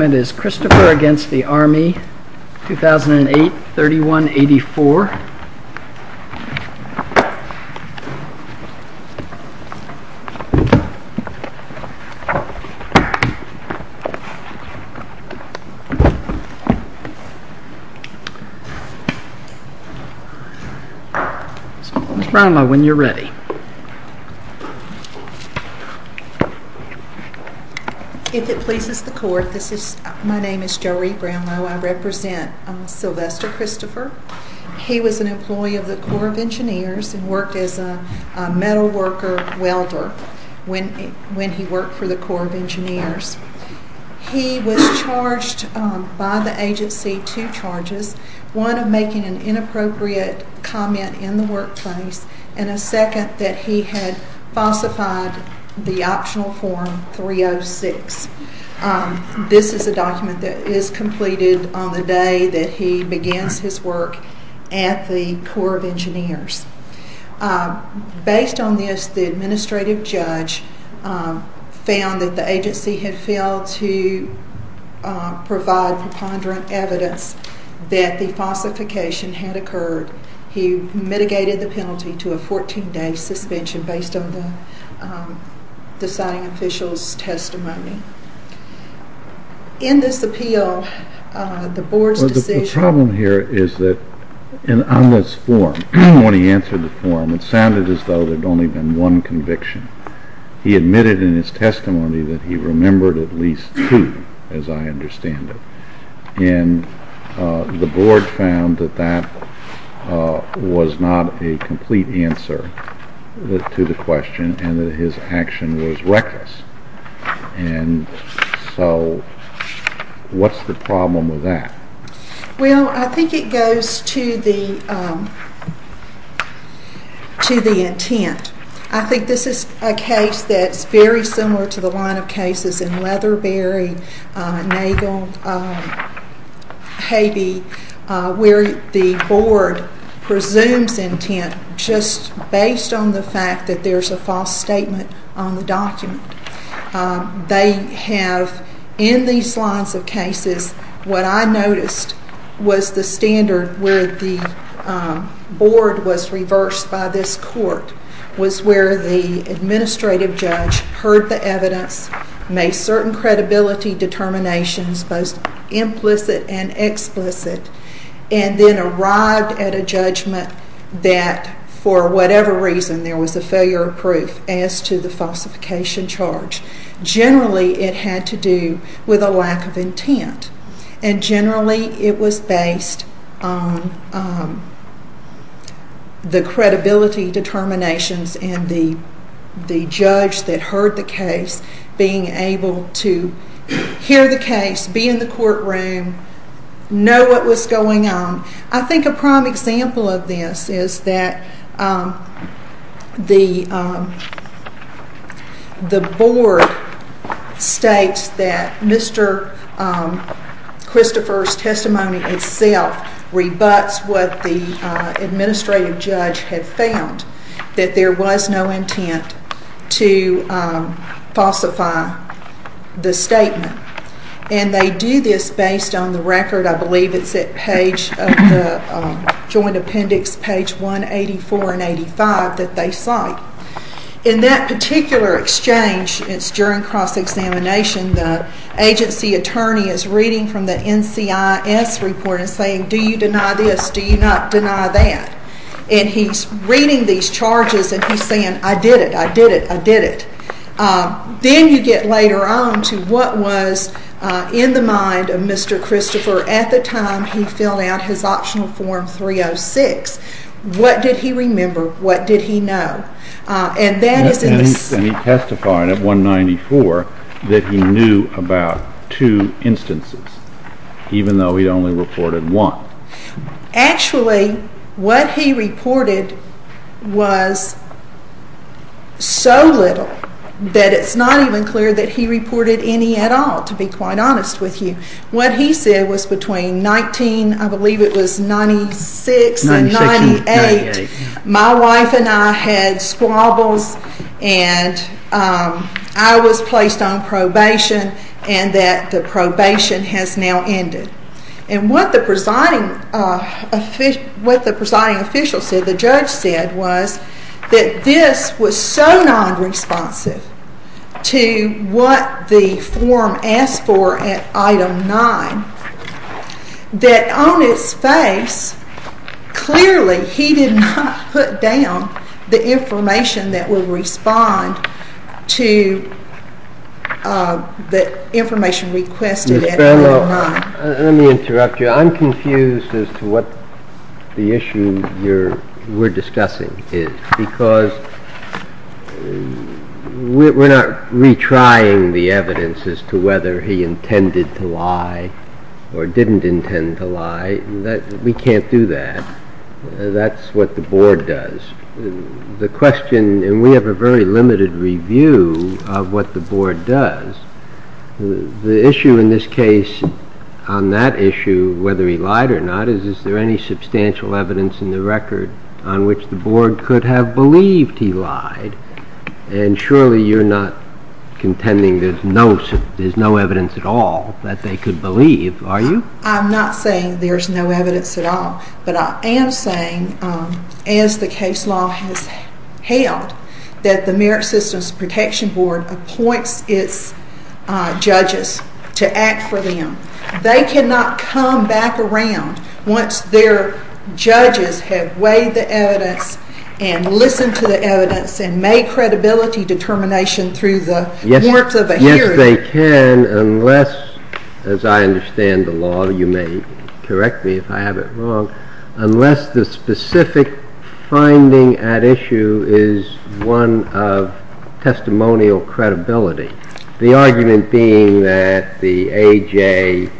It is Christopher v. Army, 2008-31-84. Try them on when you're ready. If it pleases the court, my name is Jo Reed Brownlow. I represent Sylvester Christopher. He was an employee of the Corps of Engineers and worked as a metal worker welder when he worked for the Corps of Engineers. He was charged by the agency two charges, one of making an inappropriate comment in the work terms and a second that he had falsified the optional form 306. This is the document that is completed on the day that he begins his work at the Corps of Engineers. Based on this, the administrative judge found that the agency had failed to provide the ponderant evidence that the falsification had occurred. He mitigated the penalty to a 14-day suspension based on the signing official's testimony. In this appeal, the board's decision... The problem here is that on this form, when he answered the form, it sounded as though there had only been one conviction. He admitted in his testimony that he remembered at least two, as I understand it. And the board found that that was not a complete answer to the question and that his action was reckless. And so what's the problem with that? Well, I think it goes to the intent. I think this is a case that's very similar to the line of cases in Leatherberry, Naval, Haiti, where the board presumes intent just based on the fact that there's a false statement on the document. They have... In these lines of cases, what I noticed was the standard where the board was reversed by this court was where the administrative judge heard the evidence, made certain credibility determinations, both implicit and explicit, and then arrived at a judgment that for whatever reason there was a failure of proof as to the falsification charge. Generally, it had to do with a lack of intent. And generally, it was based on the credibility determinations and the judge that heard the case being able to hear the case, be in the courtroom, know what was going on. I think a prime example of this is that the board states that Mr. Christopher's testimony itself rebuts what the administrative judge had found, that there was no intent to falsify the statement. And they do this based on the record. I believe it's that page of the joint appendix, page 184 and 85, that they cite. In that particular exchange, it's during cross-examination, the agency attorney is reading from the NCIS report and saying, Do you deny this? Do you not deny that? And he's reading these charges and he's saying, I did it, I did it, I did it. Then you get later on to what was in the mind of Mr. Christopher at the time he filled out his optional form 306. What did he remember? What did he know? And he testified at 194 that he knew about two instances, even though he'd only reported one. Actually, what he reported was so little that it's not even clear that he reported any at all, to be quite honest with you. What he said was between 1996 and 1998, my wife and I had squabbles and I was placed on probation and that the probation has now ended. And what the presiding official said, the judge said, was that this was so non-responsive to what the form asked for at item 9, that on its face, clearly he did not put down the information that will respond to the information requested at item 9. Let me interrupt you. I'm confused as to what the issue we're discussing is, because we're not retrying the evidence as to whether he intended to lie or didn't intend to lie. We can't do that. That's what the board does. The question, and we have a very limited review of what the board does, the issue in this case on that issue, whether he lied or not, is there any substantial evidence in the record on which the board could have believed he lied? And surely you're not contending there's no evidence at all that they could believe, are you? I'm not saying there's no evidence at all. But I am saying, as the case law has held, that the Merit Systems Protection Board appoints its judges to act for them. They cannot come back around once their judges have weighed the evidence and listened to the evidence and made credibility determination through the warmth of a hearing. They can unless, as I understand the law, you may correct me if I have it wrong, unless the specific finding at issue is one of testimonial credibility, the argument being that the AJ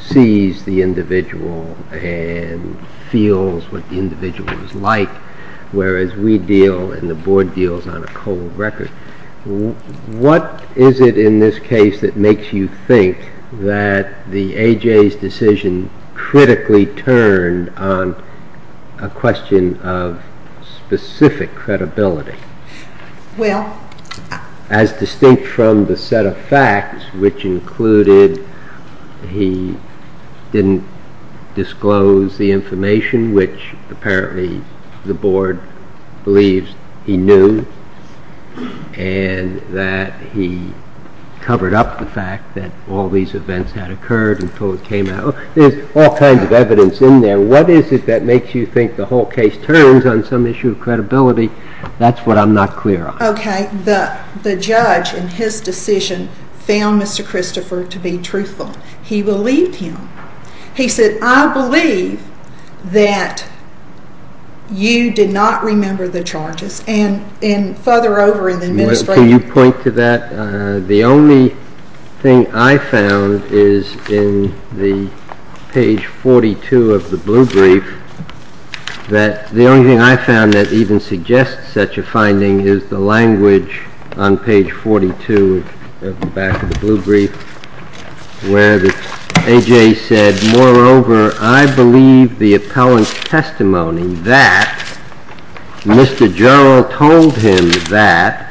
sees the individual and feels what the individual is like, whereas we deal and the board deals on a cold record. What is it in this case that makes you think that the AJ's decision critically turned on a question of specific credibility? Well? As distinct from the set of facts, which included he didn't disclose the information, which apparently the board believes he knew, and that he covered up the fact that all these events had occurred and so it came out. There's all kinds of evidence in there. What is it that makes you think the whole case turns on some issue of credibility? That's what I'm not clear on. Okay. The judge in his decision found Mr. Christopher to be truthful. He believed him. He said, I believe that you did not remember the charges. And further over in the investigation. Can you point to that? The only thing I found is in the page 42 of the blue brief, that the only thing I found that even suggests such a finding is the language on page 42 at the back of the blue brief, where AJ said, moreover, I believe the appellant's testimony that Mr. Jarrell told him that,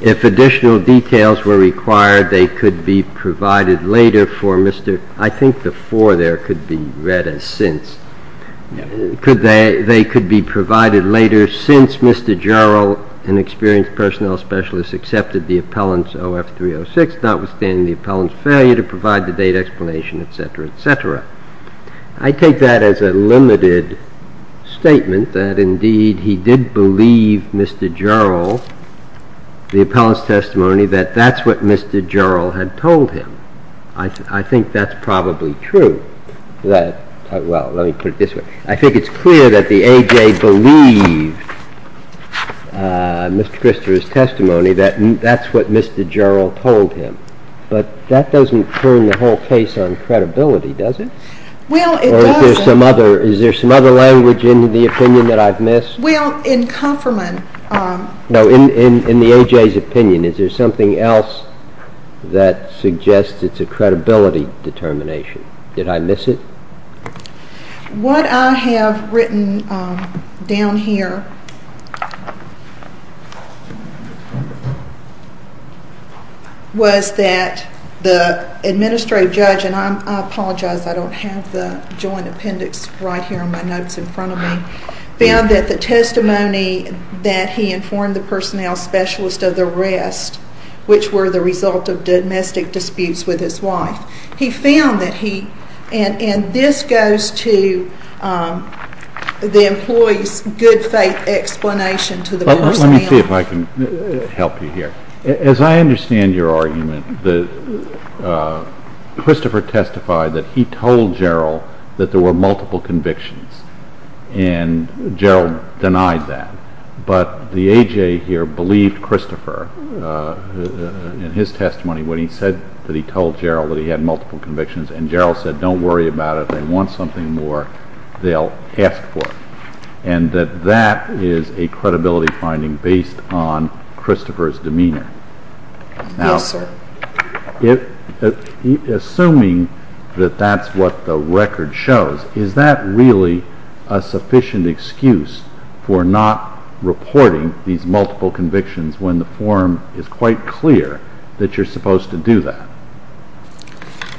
if additional details were required, they could be provided later for Mr. I think the for there could be read as since. They could be provided later since Mr. Jarrell, an experienced personnel specialist, accepted the appellant's 0F306, notwithstanding the appellant's failure to provide the date explanation, et cetera, et cetera. I take that as a limited statement that, indeed, he did believe Mr. Jarrell, the appellant's testimony, that that's what Mr. Jarrell had told him. I think that's probably true. Well, let me put it this way. I think it's clear that the AJ believed Mr. Krister's testimony that that's what Mr. Jarrell told him. But that doesn't turn the whole case on credibility, does it? Well, it doesn't. Is there some other language in the opinion that I've missed? Well, in complement. In the AJ's opinion, is there something else that suggests it's a credibility determination? Did I miss it? What I have written down here was that the administrative judge, and I apologize, I don't have the joint appendix right here in my notes in front of me, found that the testimony that he informed the personnel specialist of the arrest, which were the result of domestic disputes with his wife, he found that he, and this goes to the employee's good faith explanation to the court. Let me see if I can help you here. As I understand your argument, Christopher testified that he told Jarrell that there were multiple convictions, and Jarrell denied that. But the AJ here believed Christopher in his testimony when he said that he told Jarrell that he had multiple convictions, and Jarrell said, don't worry about it. If they want something more, they'll ask for it. And that that is a credibility finding based on Christopher's demeanor. Now, assuming that that's what the record shows, is that really a sufficient excuse for not reporting these multiple convictions when the form is quite clear that you're supposed to do that?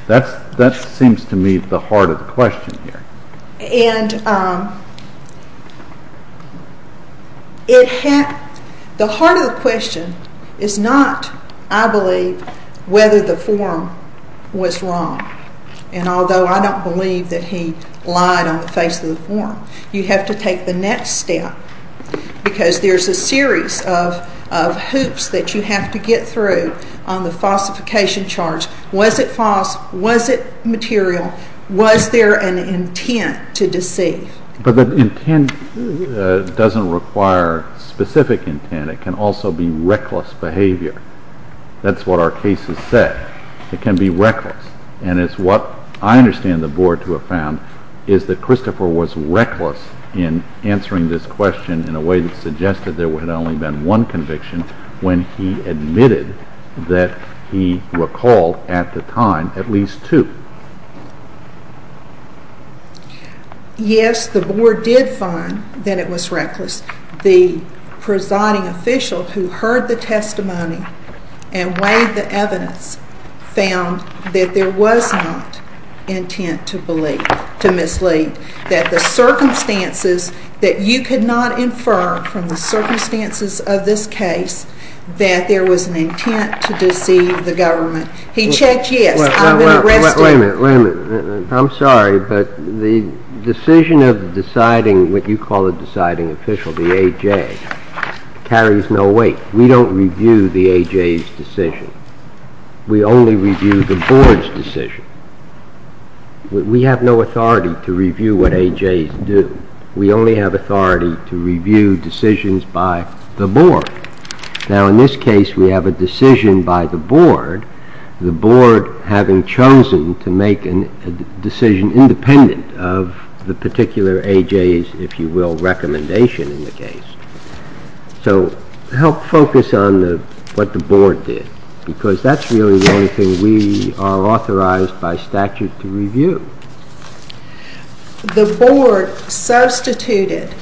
That seems to me the heart of the question here. And the heart of the question is not, I believe, whether the form was wrong. And although I don't believe that he lied on the face of the form, you have to take the next step because there's a series of hoops that you have to get through on the falsification charge. Was it false? Was it material? Was there an intent to deceive? But the intent doesn't require specific intent. It can also be reckless behavior. That's what our cases say. It can be reckless. And it's what I understand the board to have found is that Christopher was reckless in answering this question in a way that suggested there had only been one conviction when he admitted that he recalled at the time at least two. Yes, the board did find that it was reckless. And the presiding official who heard the testimony and weighed the evidence found that there was not intent to mislead, that the circumstances that you could not infer from the circumstances of this case that there was an intent to deceive the government. He checked it. Wait a minute. I'm sorry, but the decision of deciding what you call a deciding official, the A.J., carries no weight. We don't review the A.J.'s decision. We only review the board's decision. We have no authority to review what A.J.'s do. We only have authority to review decisions by the board. The board having chosen to make a decision independent of the particular A.J.'s, if you will, recommendation in the case. So help focus on what the board did, because that's really the only thing we are authorized by statute to review. The board substituted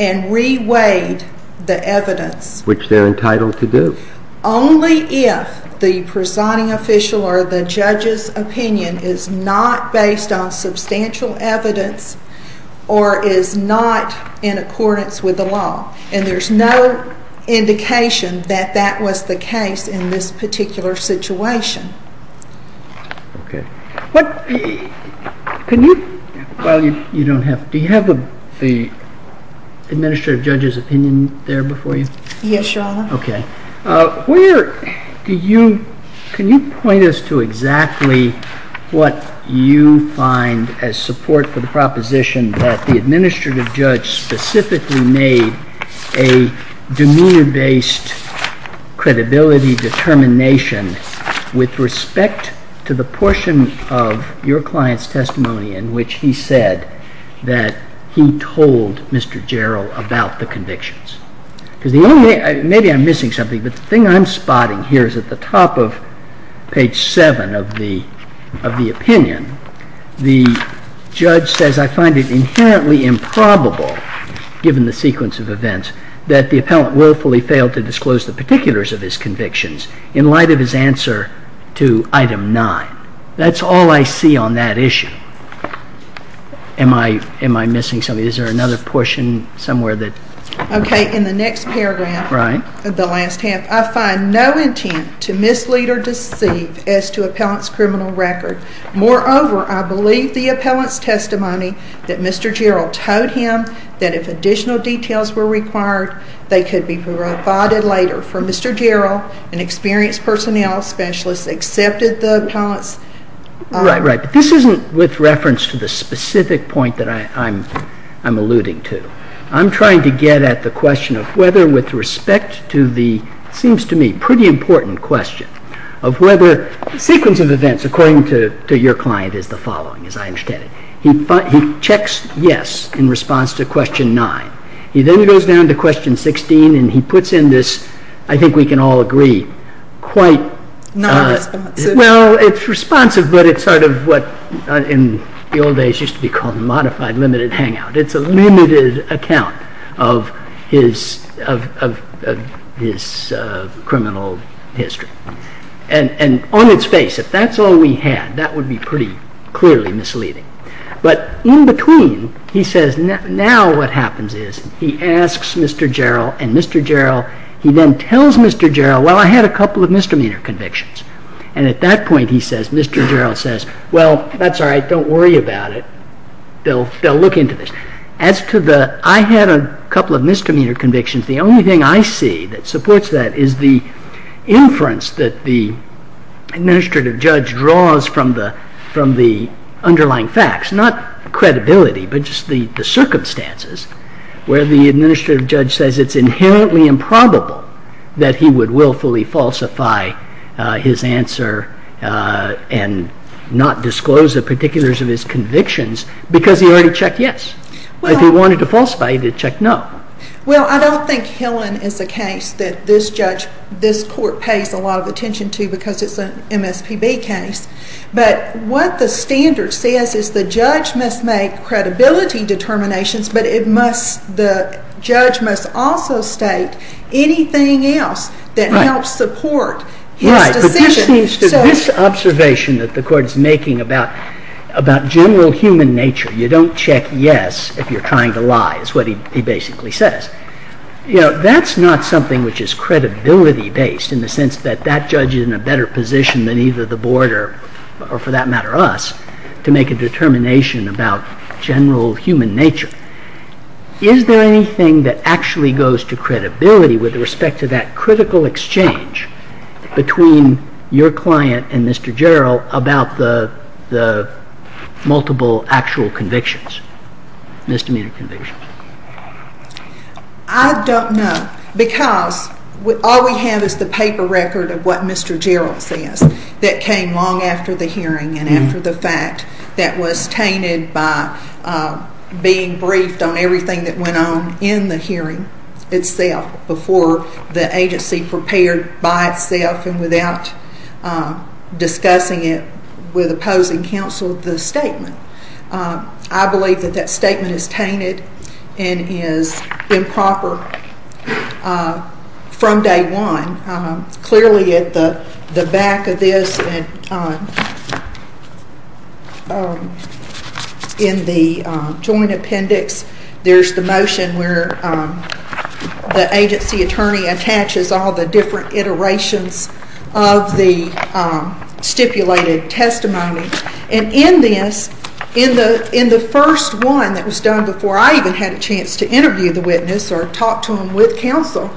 and re-weighed the evidence. Which they're entitled to do. Only if the presiding official or the judge's opinion is not based on substantial evidence or is not in accordance with the law. And there's no indication that that was the case in this particular situation. Do you have the administrative judge's opinion there before you? Yes, your honor. Okay. Can you point us to exactly what you find as support for the proposition that the administrative judge specifically made a demeanor-based credibility determination with respect to the portion of your client's testimony in which he said that he told Mr. Jarrell about the convictions? Maybe I'm missing something, but the thing I'm spotting here is at the top of page 7 of the opinion, the judge says I find it infinitely improbable, given the sequence of events, that the appellant willfully failed to disclose the particulars of his convictions in light of his answer to item 9. That's all I see on that issue. Am I missing something? Is there another portion somewhere? Okay. In the next paragraph of the last text, I find no intent to mislead or deceive as to appellant's criminal record. Moreover, I believe the appellant's testimony that Mr. Jarrell told him that if additional details were required, they could be provided later. For Mr. Jarrell, an experienced personnel specialist accepted the appellant's… Right, right. This isn't with reference to the specific point that I'm alluding to. I'm trying to get at the question of whether with respect to the, it seems to me, pretty important question of whether the sequence of events, according to your client, is the following, as I understand it. He checks yes in response to question 9. He then goes down to question 16 and he puts in this, I think we can all agree, quite… It's sort of what in the old days used to be called a modified limited hangout. It's a limited account of his criminal history. And on its face, if that's all we had, that would be pretty clearly misleading. But in between, he says now what happens is he asks Mr. Jarrell and Mr. Jarrell, he then tells Mr. Jarrell, well, I had a couple of misdemeanor convictions. And at that point, he says, Mr. Jarrell says, well, that's all right, don't worry about it. They'll look into this. As to the, I had a couple of misdemeanor convictions. The only thing I see that supports that is the inference that the administrative judge draws from the underlying facts, not credibility, but just the circumstances where the administrative judge says it's inherently improbable that he would willfully falsify his answer and not disclose the particulars of his convictions because he already checked yes. If he wanted to falsify it, he'd check no. Well, I don't think killing is the case that this judge, this court pays a lot of attention to because it's an MSPB case. But what the standard says is the judge must make credibility determinations, but it must, the judge must also state anything else that helps support his intention. Right. But this observation that the court is making about general human nature, you don't check yes if you're trying to lie is what he basically says. You know, that's not something which is credibility based in the sense that that judge is in a better position than either the board or for that matter us to make a determination about general human nature. Is there anything that actually goes to credibility with respect to that critical exchange between your client and Mr. Jarrell about the multiple actual convictions, misdemeanor convictions? I don't know because all we have is the paper record of what Mr. Jarrell said that came long after the hearing and after the fact that was tainted by being briefed on everything that went on in the hearing itself before the agency prepared by itself and without discussing it with opposing counsel the statement. I believe that that statement is tainted and is improper from day one. Clearly at the back of this, in the joint appendix, there's the motion where the agency attorney attaches all the different iterations of the stipulated testimony. And in this, in the first one that was done before I even had a chance to interview the witness or talk to him with counsel,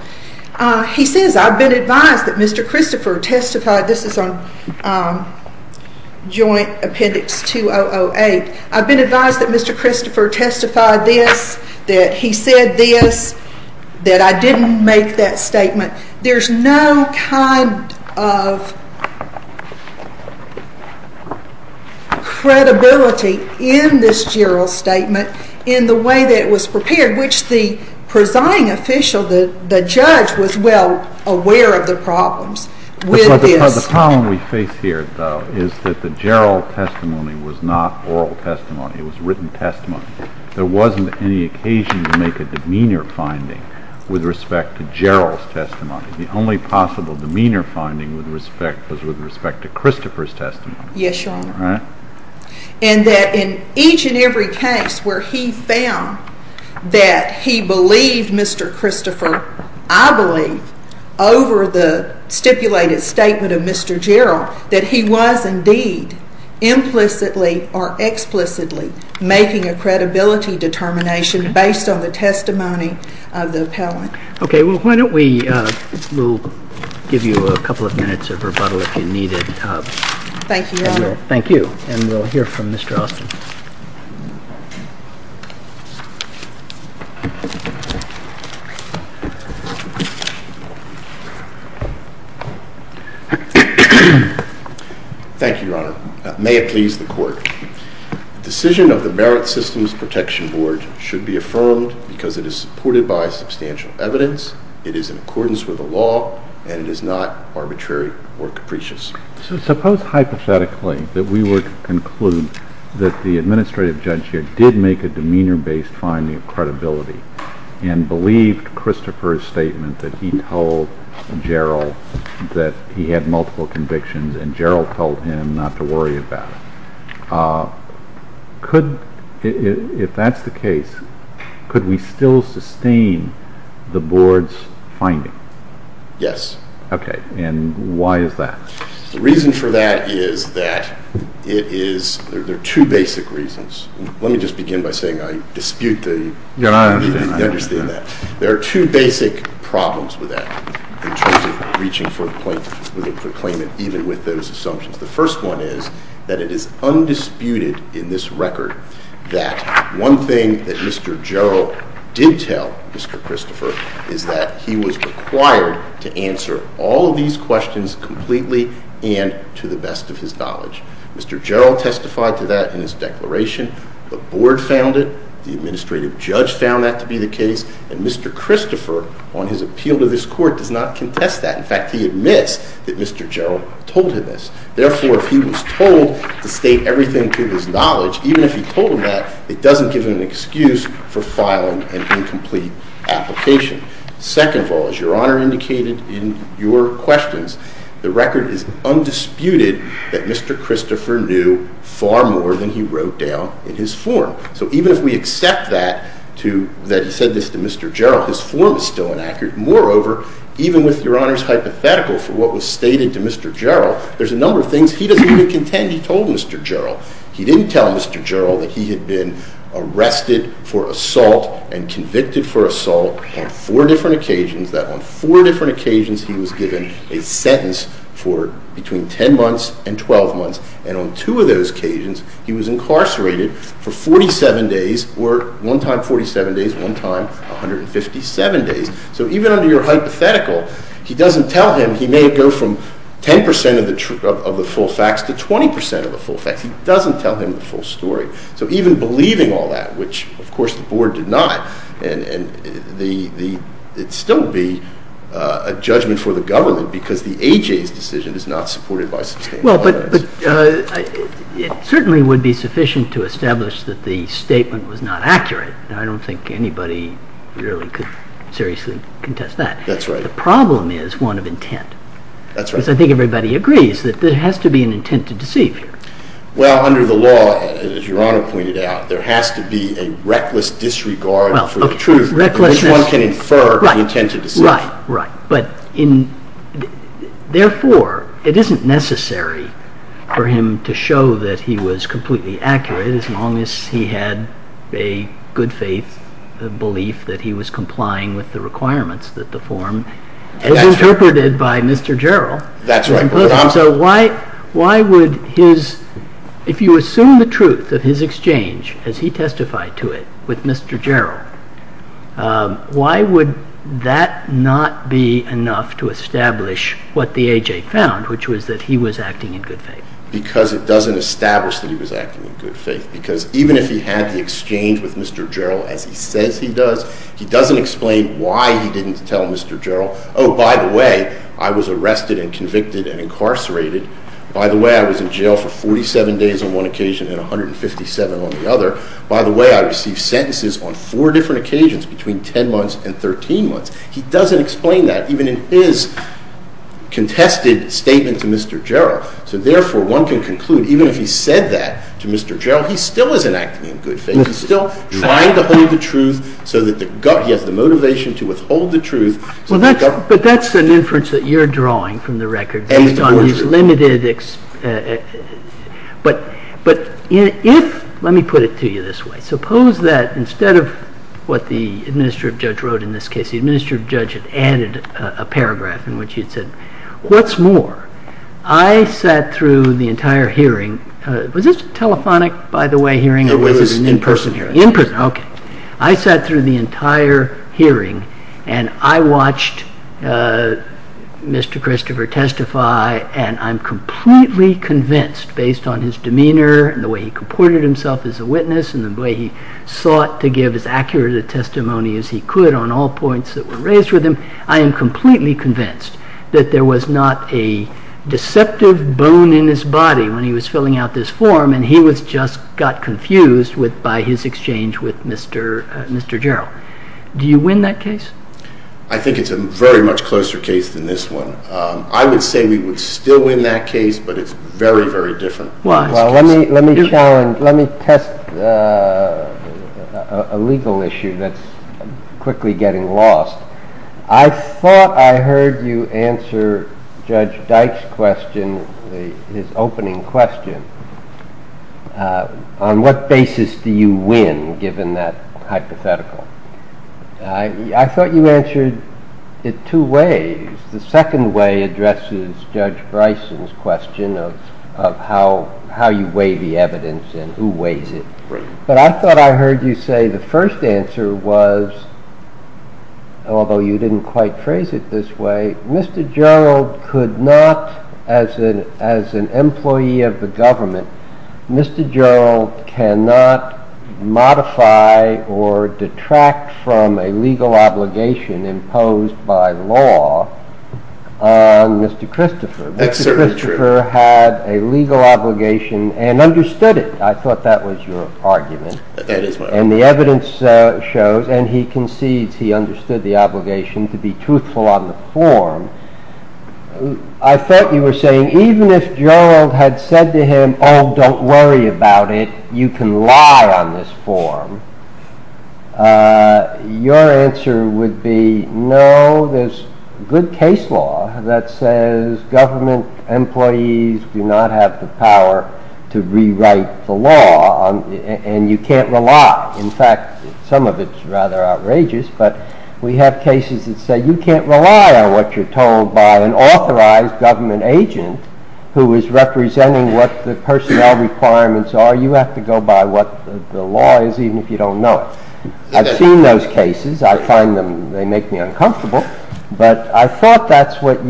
he says, I've been advised that Mr. Christopher testified, this is on joint appendix 2008, I've been advised that Mr. Christopher testified this, that he said this, that I didn't make that statement. There's no kind of credibility in this Jarrell statement in the way that it was prepared in which the presiding official, the judge, was well aware of the problems. The problem we face here, though, is that the Jarrell testimony was not oral testimony. It was written testimony. There wasn't any occasion to make a demeanor finding with respect to Jarrell's testimony. The only possible demeanor finding with respect is with respect to Christopher's testimony. Yes, Your Honor. And that in each and every case where he found that he believed Mr. Christopher, I believe, over the stipulated statement of Mr. Jarrell, that he was indeed implicitly or explicitly making a credibility determination based on the testimony of the appellant. Okay, well, why don't we give you a couple of minutes of rebuttal if you need it. Thank you, Your Honor. Thank you, and we'll hear from Mr. Austin. Thank you, Your Honor. May it please the Court. The decision of the Merrick Systems Protection Board should be affirmed because it is supported by substantial evidence, it is in accordance with the law, and it is not arbitrary or capricious. So suppose hypothetically that we were to conclude that the administrative judge here did make a demeanor-based finding of credibility and believed Christopher's statement that he told Jarrell that he had multiple convictions and Jarrell told him not to worry about it. If that's the case, could we still sustain the Board's finding? Yes. Okay, and why is that? The reason for that is that it is – there are two basic reasons. Let me just begin by saying I dispute the – Your Honor, I understand. I understand that. There are two basic problems with that in terms of reaching for a claimant even with those assumptions. The first one is that it is undisputed in this record that one thing that Mr. Jarrell did tell Mr. Christopher is that he was required to answer all of these questions completely and to the best of his knowledge. Mr. Jarrell testified to that in his declaration. The Board found it. The administrative judge found that to be the case. And Mr. Christopher, on his appeal to this Court, does not contest that. In fact, he admits that Mr. Jarrell told him this. Therefore, if he was told to state everything to his knowledge, even if he told him that, it doesn't give him an excuse for filing an incomplete application. Second of all, as Your Honor indicated in your questions, the record is undisputed that Mr. Christopher knew far more than he wrote down in his form. So even if we accept that to – that he said this to Mr. Jarrell, his form is still inaccurate. Moreover, even with Your Honor's hypothetical for what was stated to Mr. Jarrell, there's a number of things he doesn't even contend he told Mr. Jarrell. He didn't tell Mr. Jarrell that he had been arrested for assault and convicted for assault on four different occasions, that on four different occasions he was given a sentence for between 10 months and 12 months. And on two of those occasions, he was incarcerated for 47 days, or one time 47 days, one time 157 days. So even under your hypothetical, he doesn't tell him he may go from 10 percent of the full facts to 20 percent of the full facts. He doesn't tell them the full story. So even believing all that, which of course the Board denied, it would still be a judgment for the government because the A.J.'s decision is not supported by the Supreme Court. Well, but it certainly would be sufficient to establish that the statement was not accurate, and I don't think anybody really could seriously contest that. That's right. The problem is one of intent. That's right. Because I think everybody agrees that there has to be an intent to deceive you. Well, under the law, as Your Honor pointed out, there has to be a reckless disregard for the truth. Well, a reckless disregard. Because one can infer an intent to deceive. Right, right. But therefore, it isn't necessary for him to show that he was completely accurate as long as he had a good faith belief that he was complying with the requirements that the form was interpreted by Mr. Jarrell. That's right. So why would his – if you assume the truth of his exchange as he testified to it with Mr. Jarrell, why would that not be enough to establish what the A.J. found, which was that he was acting in good faith? Because it doesn't establish that he was acting in good faith. Because even if he had the exchange with Mr. Jarrell as he said he does, he doesn't explain why he didn't tell Mr. Jarrell, oh, by the way, I was arrested and convicted and incarcerated. By the way, I was in jail for 47 days on one occasion and 157 on the other. By the way, I received sentences on four different occasions between 10 months and 13 months. He doesn't explain that even in his contested statement to Mr. Jarrell. So therefore, one can conclude even if he said that to Mr. Jarrell, he still isn't acting in good faith. He's still trying to hold the truth so that he has the motivation to withhold the truth. But that's an inference that you're drawing from the record based on his limited – but if – let me put it to you this way. Suppose that instead of what the administrative judge wrote in this case, the administrative judge had added a paragraph in which he said, what's more? I sat through the entire hearing. Was this a telephonic, by the way, hearing or was it an in-person hearing? It was an in-person hearing. In-person, okay. I sat through the entire hearing and I watched Mr. Christopher testify and I'm completely convinced based on his demeanor and the way he comported himself as a witness and the way he sought to give as accurate a testimony as he could on all points that were raised with him, I am completely convinced that there was not a deceptive bone in his body when he was filling out this form and he just got confused by his exchange with Mr. Jarrell. Do you win that case? I think it's a very much closer case than this one. I would say we would still win that case, but it's very, very different. Well, let me test a legal issue that's quickly getting lost. I thought I heard you answer Judge Dyke's question, his opening question. On what basis do you win, given that hypothetical? I thought you answered it two ways. The second way addresses Judge Bryson's question of how you weigh the evidence and who weighs it. But I thought I heard you say the first answer was, although you didn't quite phrase it this way, Mr. Jarrell could not, as an employee of the government, Mr. Jarrell cannot modify or detract from a legal obligation imposed by law on Mr. Christopher. Mr. Christopher had a legal obligation and understood it. I thought that was your argument. And the evidence shows, and he concedes he understood the obligation to be truthful on the form. I thought you were saying even if Jarrell had said to him, oh, don't worry about it, you can lie on this form, your answer would be, no, there's good case law that says government employees do not have the power to rewrite the law, and you can't rely on it. In fact, some of it's rather outrageous, but we have cases that say you can't rely on what you're told by an authorized government agent who is representing what the personnel requirements are. You have to go by what the law is, even if you don't know it. I've seen those cases. I find them, they make me uncomfortable. But I thought that's where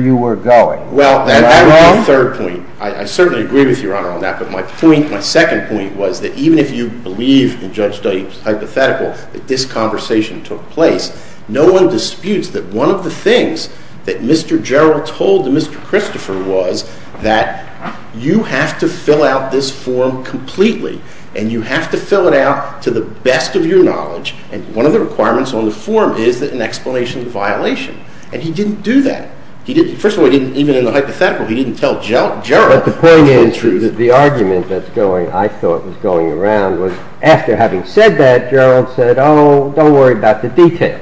you were going. Well, that was my third point. I certainly agree with Your Honor on that. But my point, my second point was that even if you believe, and Judge Daly was hypothetical, that this conversation took place, no one disputes that one of the things that Mr. Jarrell told Mr. Christopher was that you have to fill out this form completely, and you have to fill it out to the best of your knowledge, and one of the requirements on the form is an explanation of violation. And he didn't do that. First of all, even in the hypothetical, he didn't tell Jarrell. But the point is, the argument that I thought was going around was after having said that, Jarrell said, oh, don't worry about the details.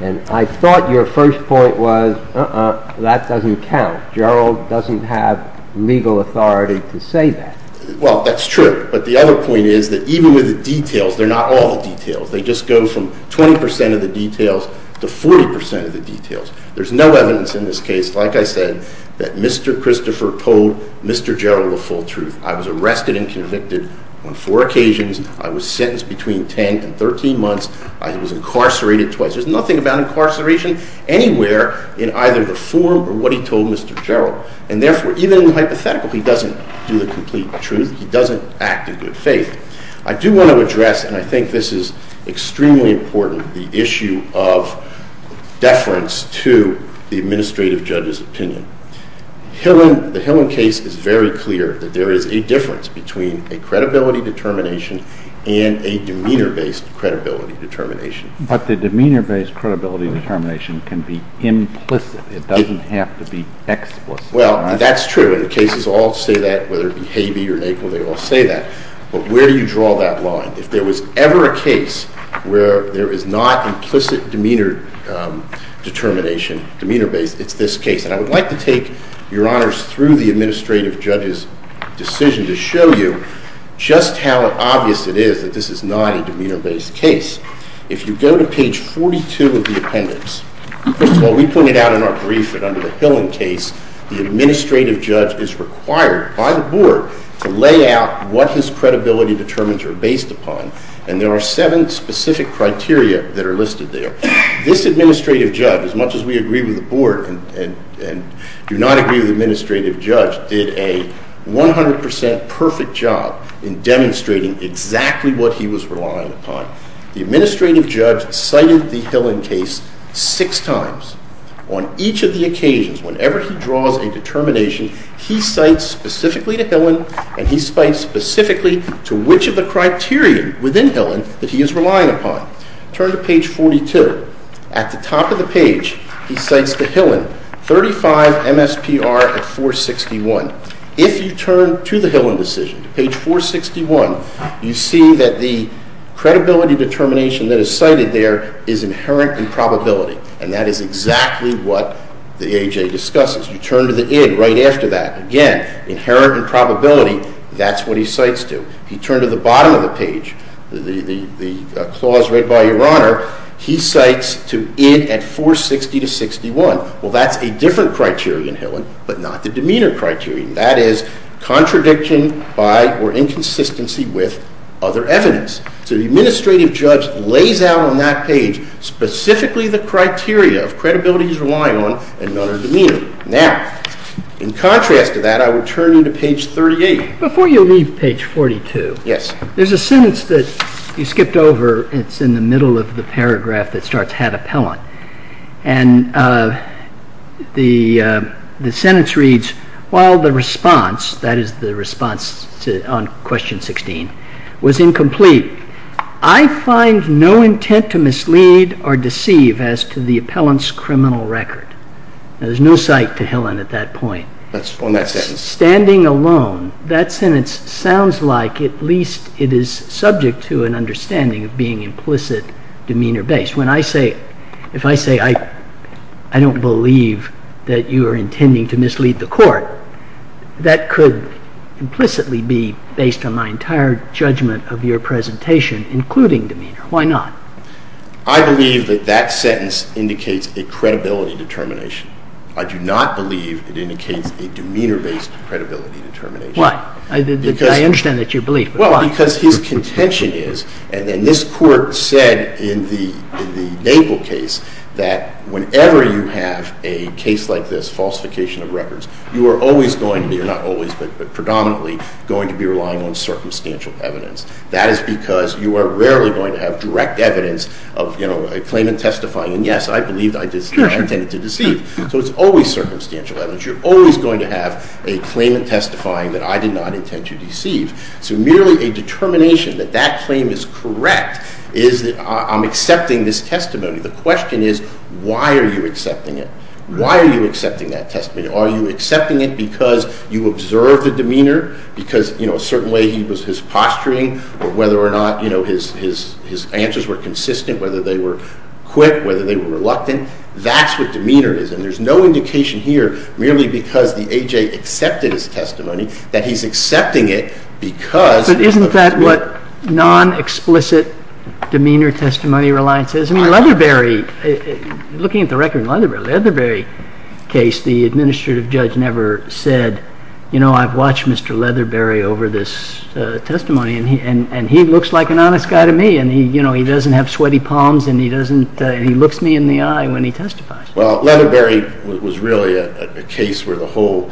And I thought your first point was, uh-uh, that doesn't count. Jarrell doesn't have legal authority to say that. Well, that's true. But the other point is that even with the details, they're not all details. They just go from 20 percent of the details to 40 percent of the details. There's no evidence in this case, like I said, that Mr. Christopher told Mr. Jarrell the full truth. I was arrested and convicted on four occasions. I was sentenced between 10 and 13 months. I was incarcerated twice. There's nothing about incarceration anywhere in either the form or what he told Mr. Jarrell. And therefore, even in the hypothetical, he doesn't do the complete truth. He doesn't act in good faith. I do want to address, and I think this is extremely important, the issue of deference to the administrative judge's opinion. The Hillen case is very clear that there is a difference between a credibility determination and a demeanor-based credibility determination. But the demeanor-based credibility determination can be implicit. It doesn't have to be explicit. Well, that's true. You know, the cases all say that, whether it be Habee or Naple, they all say that. But where do you draw that line? If there was ever a case where there is not implicit demeanor determination, demeanor-based, it's this case. And I would like to take, Your Honors, through the administrative judge's decision to show you just how obvious it is that this is not a demeanor-based case. If you go to page 42 of the appendix, what we pointed out in our brief that under the Hillen case, the administrative judge is required by the board to lay out what his credibility determinants are based upon. And there are seven specific criteria that are listed there. This administrative judge, as much as we agree with the board and do not agree with the administrative judge, did a 100% perfect job in demonstrating exactly what he was relying upon. The administrative judge cited the Hillen case six times. On each of the occasions, whenever he draws a determination, he cites specifically to Hillen, and he cites specifically to which of the criteria within Hillen that he is relying upon. Turn to page 42. At the top of the page, he cites to Hillen, 35 MSPR of 461. If you turn to the Hillen decision, page 461, you see that the credibility determination that is cited there is inherent in probability. And that is exactly what the AHA discusses. You turn to the end right after that. Again, inherent in probability, that's what he cites to. If you turn to the bottom of the page, the clause read by your Honor, he cites to end at 460 to 61. Well, that's a different criterion, Hillen, but not the demeanor criterion. That is contradiction by or inconsistency with other evidence. So the administrative judge lays out on that page specifically the criteria of credibility he's relying on and none of the demeanor. Now, in contrast to that, I will turn you to page 38. Before you leave page 42, there's a sentence that you skipped over. It's in the middle of the paragraph that starts, had appellant. And the sentence reads, while the response, that is the response on question 16, was incomplete, I find no intent to mislead or deceive as to the appellant's criminal record. There's no cite to Hillen at that point. That's on that sentence. Standing alone, that sentence sounds like at least it is subject to an understanding of being implicit demeanor-based. When I say, if I say I don't believe that you are intending to mislead the court, that could implicitly be based on my entire judgment of your presentation, including demeanor. Why not? I believe that that sentence indicates a credibility determination. I do not believe it indicates a demeanor-based credibility determination. Why? Because I understand that you believe. Well, because his contention is, and this court said in the Naples case, that whenever you have a case like this, falsification of records, you are always going to, not always, but predominantly, going to be relying on circumstantial evidence. That is because you are rarely going to have direct evidence of, you know, a claimant testifying, and yes, I believe I did not intend to deceive. So it's always circumstantial evidence. You're always going to have a claimant testifying that I did not intend to deceive. So merely a determination that that claim is correct is that I'm accepting this testimony. The question is, why are you accepting it? Why are you accepting that testimony? Are you accepting it because you observed the demeanor, because, you know, certainly he was just posturing, or whether or not, you know, his answers were consistent, whether they were quick, whether they were reluctant, that's what demeanor is. And there's no indication here, merely because the A.J. accepted his testimony, that he's accepting it because... But isn't that what non-explicit demeanor testimony reliance is? I mean, Leatherberry, looking at the record of Leatherberry, the Leatherberry case, the administrative judge never said, you know, I've watched Mr. Leatherberry over this testimony, and he looks like an honest guy to me, and, you know, he doesn't have sweaty palms, and he looks me in the eye when he testifies. Well, Leatherberry was really a case where the whole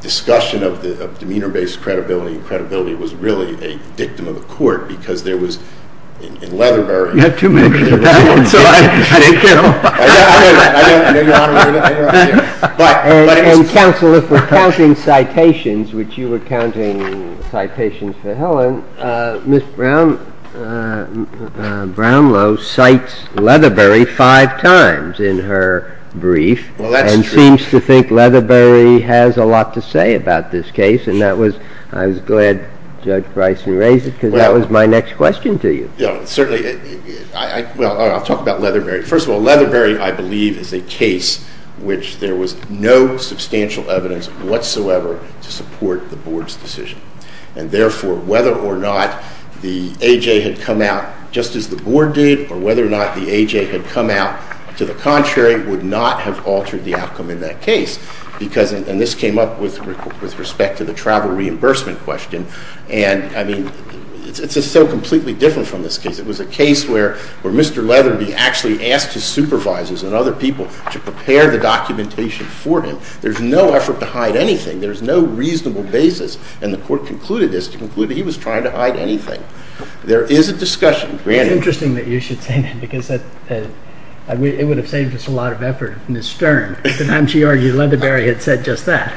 discussion of demeanor-based credibility and credibility was really a victim of the court, because there was, in Leatherberry... You have too many reasons, so I didn't care. And counsel, if we're counting citations, which you were counting citations for Helen, Ms. Brownlow cites Leatherberry five times in her brief and seems to think Leatherberry has a lot to say about this case, and that was, I was glad Judge Bryson raised it, because that was my next question to you. Certainly, I'll talk about Leatherberry. First of all, Leatherberry, I believe, is a case which there was no substantial evidence whatsoever to support the board's decision. And, therefore, whether or not the A.J. had come out just as the board did or whether or not the A.J. had come out to the contrary would not have altered the outcome in that case, because, and this came up with respect to the travel reimbursement question, and, I mean, it's just so completely different from this case. It was a case where Mr. Leatherberry actually asked his supervisors and other people to prepare the documentation for him. There's no effort to hide anything. There's no reasonable basis, and the court concluded this to conclude that he was trying to hide anything. There is a discussion, granted. It's interesting that you should say that, because it would have saved us a lot of effort. Ms. Stern, at the time she argued, Leatherberry had said just that.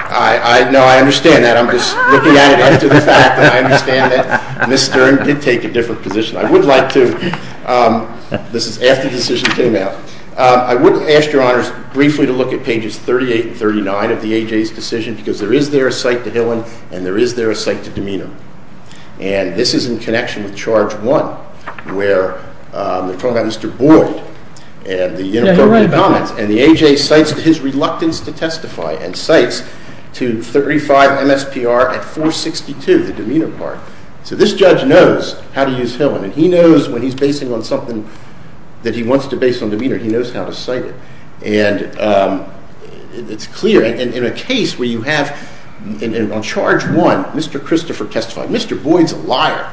No, I understand that. I'm just looking at it. I understand that. Ms. Stern did take a different position. I would like to, this is after the decision came out, I would ask Your Honors briefly to look at pages 38 and 39 of the A.J.'s decision, because there is there a cite to Hillen, and there is there a cite to Domeno. And this is in connection with charge one, where the court had Mr. Boyle, and the A.J. cites to his reluctance to testify, and cites to 35 MSPR at 462 in Domeno Park. So this judge knows how to use Hillen, and he knows when he's basing it on something that he wants to base on Domeno, he knows how to cite it. And it's clear, and in a case where you have, on charge one, Mr. Christopher testifying, Mr. Boyle's a liar,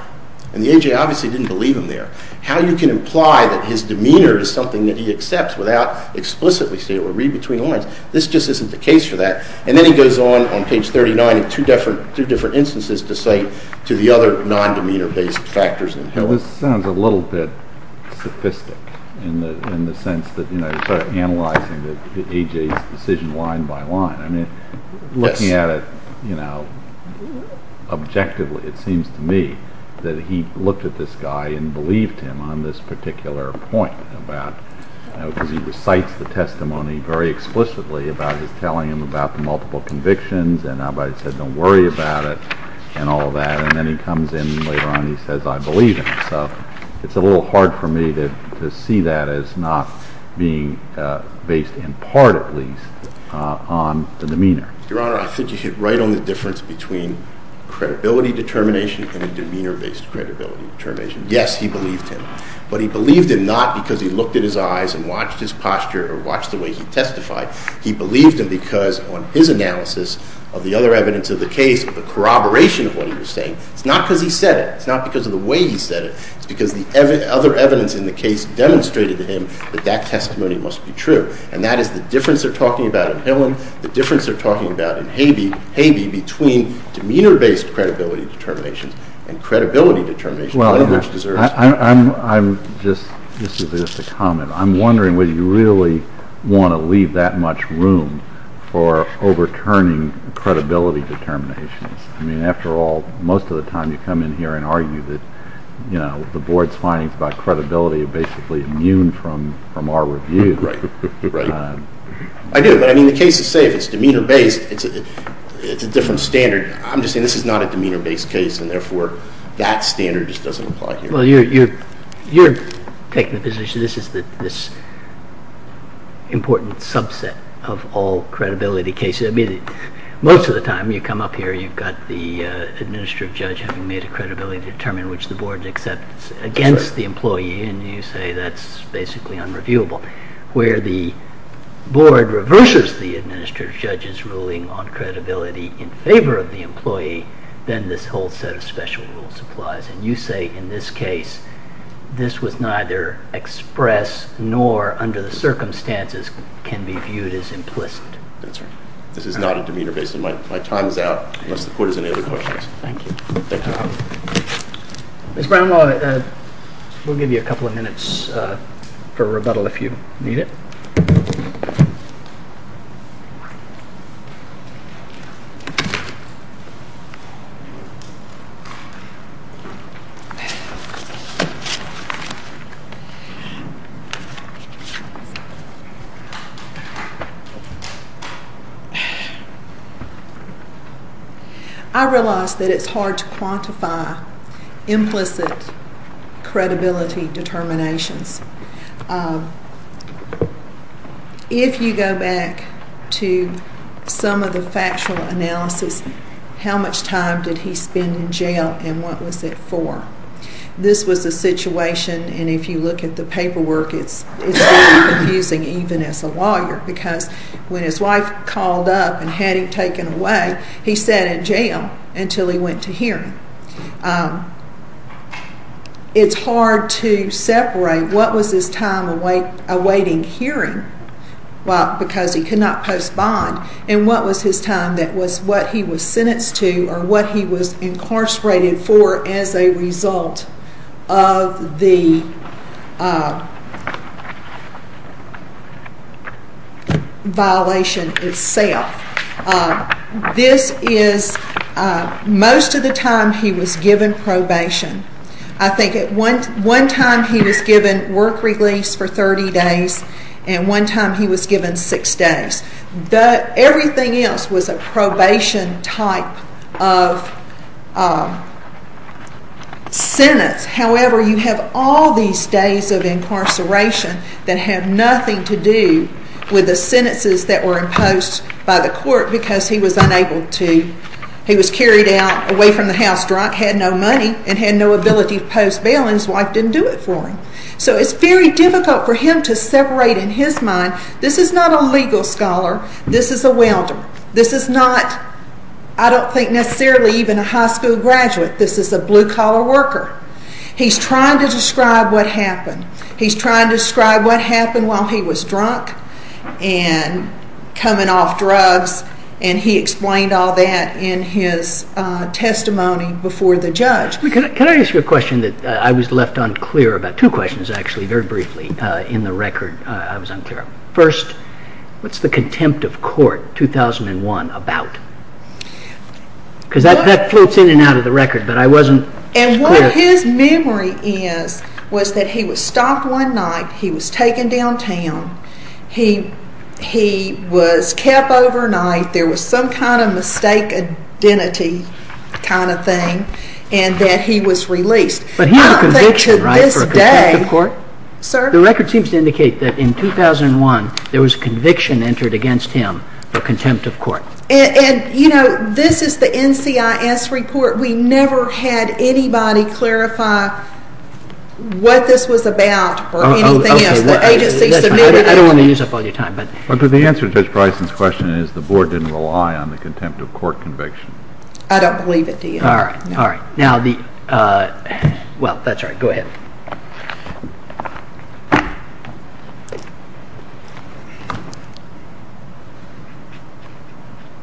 and the A.J. obviously didn't believe him there. How you can imply that his demeanor is something that he accepts without explicitly saying it or read between the lines, this just isn't the case for that. And then he goes on, on page 39, two different instances to cite to the other non-demeanor-based factors in Hillen. This sounds a little bit sophisticated in the sense that, you know, it's sort of analyzing the A.J.'s decision line by line. I mean, looking at it, you know, objectively, it seems to me that he looked at this guy and believed him on this particular point, about how he recites the testimony very explicitly about it, telling him about the multiple convictions, and how he said, don't worry about it, and all that. And then he comes in later on and says, I believe him. So it's a little hard for me to see that as not being based in part, at least, on the demeanor. Your Honor, I'll finish it right on the difference between credibility determination from a demeanor-based credibility determination. Yes, he believed him, but he believed him not because he looked in his eyes and watched his posture or watched the way he testified. He believed him because on his analysis of the other evidence of the case, the corroboration of what he was saying, it's not because he said it. It's not because of the way he said it. It's because the other evidence in the case demonstrated to him that that testimony must be true. And that is the difference they're talking about in Hillam, the difference they're talking about in Havey, between demeanor-based credibility determination and credibility determination. Well, I'm just, this is just a comment. I'm wondering whether you really want to leave that much room for overturning credibility determination. I mean, after all, most of the time you come in here and argue that, you know, the Board's findings about credibility are basically immune from our review. I do, but I mean the case is safe. It's demeanor-based. It's a different standard. I'm just saying this is not a demeanor-based case, and therefore that standard just doesn't apply here. Well, you're taking the position this is this important subset of all credibility cases. I mean, most of the time you come up here, you've got the Administrative Judge having made a credibility determination which the Board accepts against the employee, and you say that's basically unreviewable. Where the Board reverses the Administrative Judge's ruling on credibility in favor of the employee, then this whole set of special rules applies. And you say in this case this was neither expressed nor under the circumstances can be viewed as implicit. That's right. This is not a demeanor-based one. My time is out. If the Court has any other questions. Thank you. Thanks a lot. Ms. Brownlaw, we'll give you a couple of minutes for rebuttal if you need it. I realize that it's hard to quantify implicit credibility determination. If you go back to some of the factual analysis, how much time did he spend in jail and what was it for? This was a situation, and if you look at the paperwork, it's very confusing even as a lawyer, because when his wife called up and had him taken away, he sat in jail until he went to hearing. It's hard to separate what was his time awaiting hearing, because he could not postpone, and what was his time that was what he was sentenced to or what he was incarcerated for as a result of the violation itself. This is most of the time he was given probation. I think at one time he was given work release for 30 days, and one time he was given six days. Everything else was a probation type of sentence. However, you have all these days of incarceration that have nothing to do with the sentences that were imposed by the court, because he was carried away from the house drunk, had no money, and had no ability to post bail, and his wife didn't do it for him. So it's very difficult for him to separate in his mind, this is not a legal scholar, this is a welder. This is not, I don't think necessarily even a high school graduate, this is a blue collar worker. He's trying to describe what happened. He's trying to describe what happened while he was drunk and coming off drugs, and he explained all that in his testimony before the judge. Can I ask you a question that I was left unclear about, two questions actually, very briefly, in the record I was unclear about. First, what's the contempt of court 2001 about? Because that floats in and out of the record, but I wasn't clear. And what his memory is, was that he was stopped one night, he was taken downtown, he was kept overnight, there was some kind of mistake identity kind of thing, and that he was released. But he had a conviction, right, for a contempt of court. The record seems to indicate that in 2001, there was a conviction entered against him for contempt of court. And, you know, this is the NCIS report, we never had anybody clarify what this was about for anything. I don't want to use up all your time. But the answer to Judge Bryson's question is, the board didn't rely on the contempt of court conviction. I don't believe it, do you? All right, all right. Now the, well, that's all right, go ahead.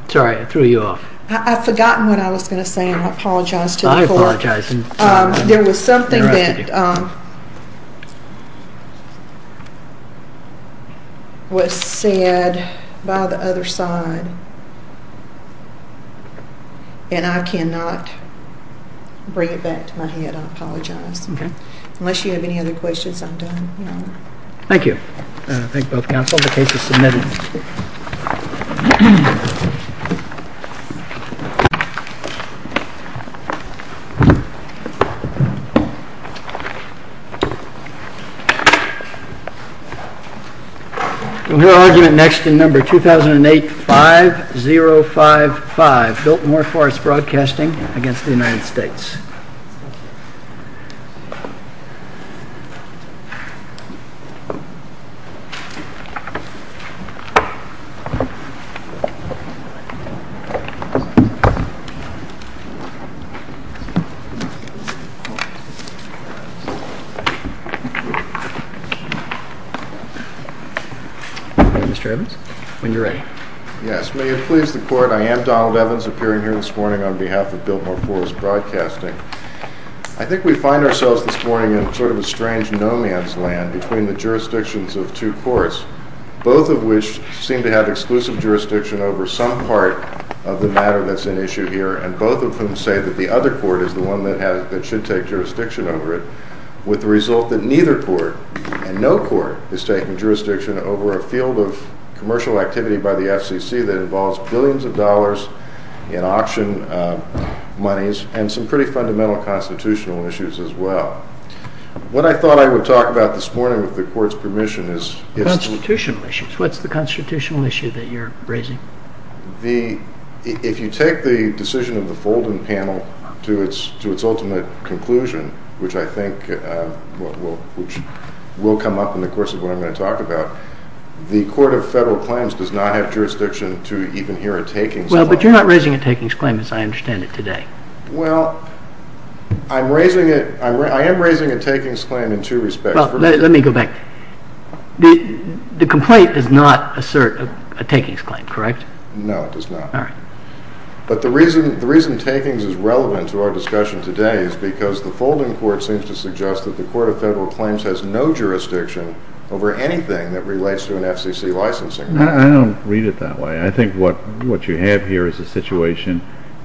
Sorry, I threw you off. I'd forgotten what I was going to say, and I apologize to the court. I apologize. There was something that was said by the other side, and I cannot bring it back to my head. I apologize. Okay. Unless you have any other questions, I'm done. Thank you. Thank you both, counsel. The case is submitted. We'll hear argument next in number 2008-5055, broadcasting against the United States. Mr. Evans, when you're ready. Yes, may it please the court, I am Donald Evans, appearing here this morning on behalf of Biltmore Pools Broadcasting. I think we find ourselves this morning in sort of a strange no-man's land between the jurisdictions of two courts, both of which seem to have exclusive jurisdiction over some part of the matter that's at issue here, and both of them say that the other court is the one that should take jurisdiction over it, with the result that neither court, and no court, is taking jurisdiction over a field of commercial activity by the FCC that involves billions of dollars in auction monies and some pretty fundamental constitutional issues as well. What I thought I would talk about this morning with the court's permission is... Constitutional issues. What's the constitutional issue that you're raising? If you take the decision of the Fulton panel to its ultimate conclusion, which I think will come up in the course of what I'm going to talk about, the Court of Federal Claims does not have jurisdiction to even hear a takings claim. Well, but you're not raising a takings claim as I understand it today. Well, I am raising a takings claim in two respects. Well, let me go back. The complaint does not assert a takings claim, correct? No, it does not. All right. But the reason takings is relevant to our discussion today is because the Fulton Court seems to suggest that the Court of Federal Claims has no jurisdiction over anything that relates to an FCC licensing contract. I don't read it that way. I think what you have here is a situation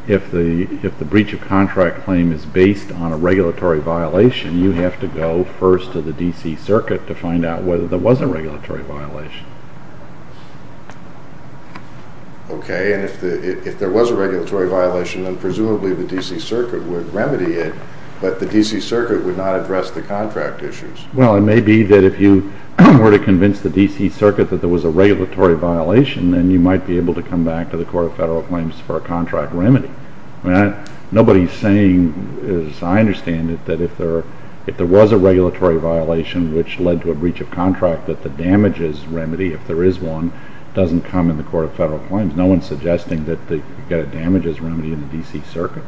if the breach of contract claim is based on a regulatory violation, you have to go first to the D.C. Circuit to find out whether there was a regulatory violation. Okay, and if there was a regulatory violation, then presumably the D.C. Circuit would remedy it, but the D.C. Circuit would not address the contract issues. Well, it may be that if you were to convince the D.C. Circuit that there was a regulatory violation, then you might be able to come back to the Court of Federal Claims for a contract remedy. Nobody is saying, as I understand it, that if there was a regulatory violation which led to a breach of contract, that the damages remedy, if there is one, doesn't come in the Court of Federal Claims. No one is suggesting that you get a damages remedy in the D.C. Circuit.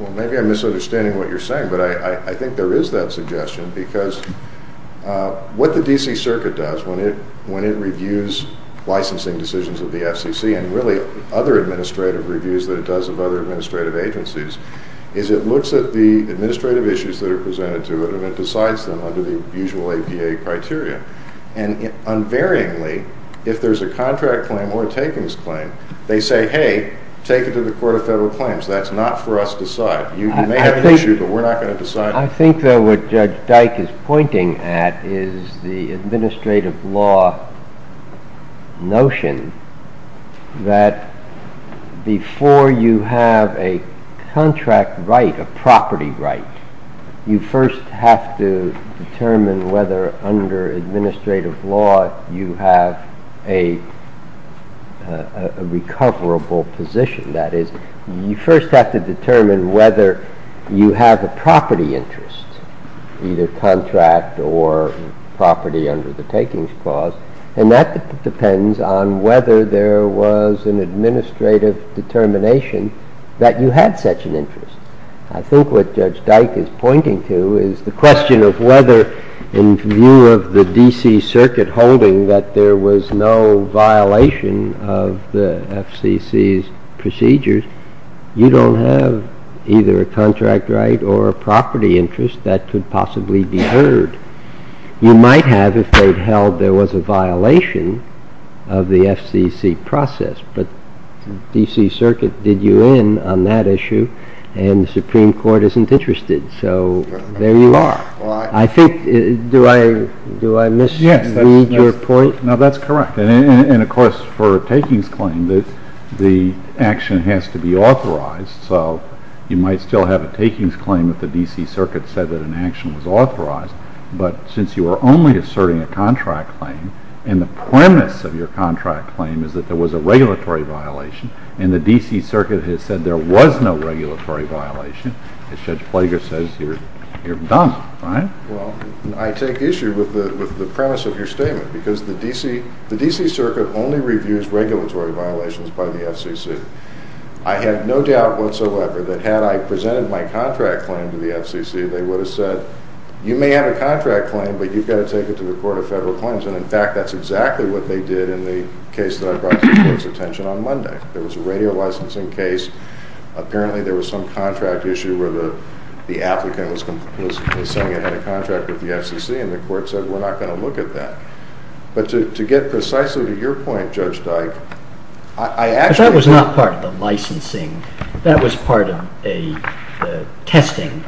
Well, maybe I'm misunderstanding what you're saying, but I think there is that suggestion, because what the D.C. Circuit does when it reviews licensing decisions of the FCC and really other administrative reviews that it does of other administrative agencies is it looks at the administrative issues that are presented to it and it decides them under the usual APA criteria. And unvaryingly, if there's a contract claim or a takings claim, they say, hey, take it to the Court of Federal Claims. That's not for us to decide. You may have an issue, but we're not going to decide it. I think that what Judge Dyke is pointing at is the administrative law notion that before you have a contract right, a property right, you first have to determine whether under administrative law you have a recoverable position. That is, you first have to determine whether you have a property interest, either contract or property under the takings clause, and that depends on whether there was an administrative determination that you had such an interest. I think what Judge Dyke is pointing to is the question of whether in view of the D.C. Circuit holding that there was no violation of the FCC's procedures, you don't have either a contract right or a property interest that could possibly be heard. You might have if they held there was a violation of the FCC process, but the D.C. Circuit did you in on that issue and the Supreme Court isn't interested, so there you are. Do I misread your point? No, that's correct. And, of course, for a takings claim, the action has to be authorized, so you might still have a takings claim if the D.C. Circuit said that an action was authorized, but since you are only asserting a contract claim and the premise of your contract claim is that there was a regulatory violation and the D.C. Circuit has said there was no regulatory violation, Judge Ploeger says you're dumb, right? Well, I take issue with the premise of your statement because the D.C. Circuit only reviews regulatory violations by the FCC. I have no doubt whatsoever that had I presented my contract claim to the FCC, they would have said you may have a contract claim, but you've got to take it to the Court of Federal Claims, and, in fact, that's exactly what they did in the case that I brought to the Court's attention on Monday. There was a radio licensing case. Apparently, there was some contract issue where the applicant was saying he had a contract with the FCC, and the Court said we're not going to look at that. But to get precisely to your point, Judge Dike, I actually... That was not part of the licensing. That was part of a testing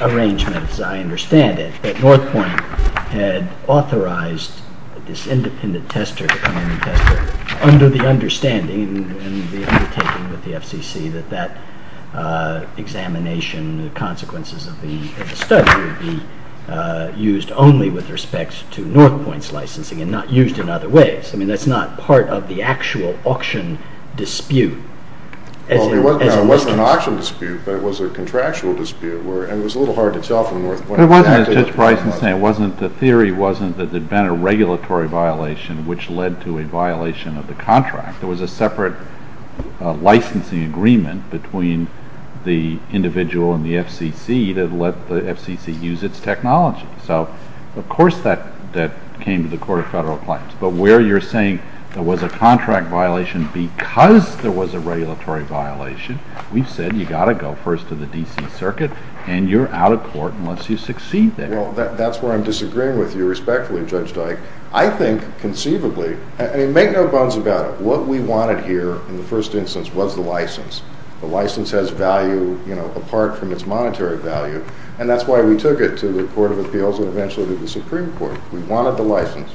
arrangement, as I understand it, that North Point had authorized this independent tester, under the understanding and the undertaking with the FCC that that examination and the consequences of the study would be used only with respect to North Point's licensing and not used in other ways. I mean, that's not part of the actual auction dispute. Well, it wasn't an auction dispute, but it was a contractual dispute, and it was a little hard to tell from where... It wasn't, as Judge Bryson's saying. The theory wasn't that there'd been a regulatory violation which led to a violation of the contract. There was a separate licensing agreement between the individual and the FCC that let the FCC use its technology. So, of course, that came to the Court of Federal Appliance. But where you're saying there was a contract violation because there was a regulatory violation, we said you've got to go first to the D.C. Circuit, and you're out of court unless you succeed there. Well, that's where I'm disagreeing with you, respectfully, Judge Dike. I think conceivably, and make no bones about it, what we wanted here in the first instance was the license. The license has value apart from its monetary value, and that's why we took it to the Court of Appeals and eventually to the Supreme Court. We wanted the license.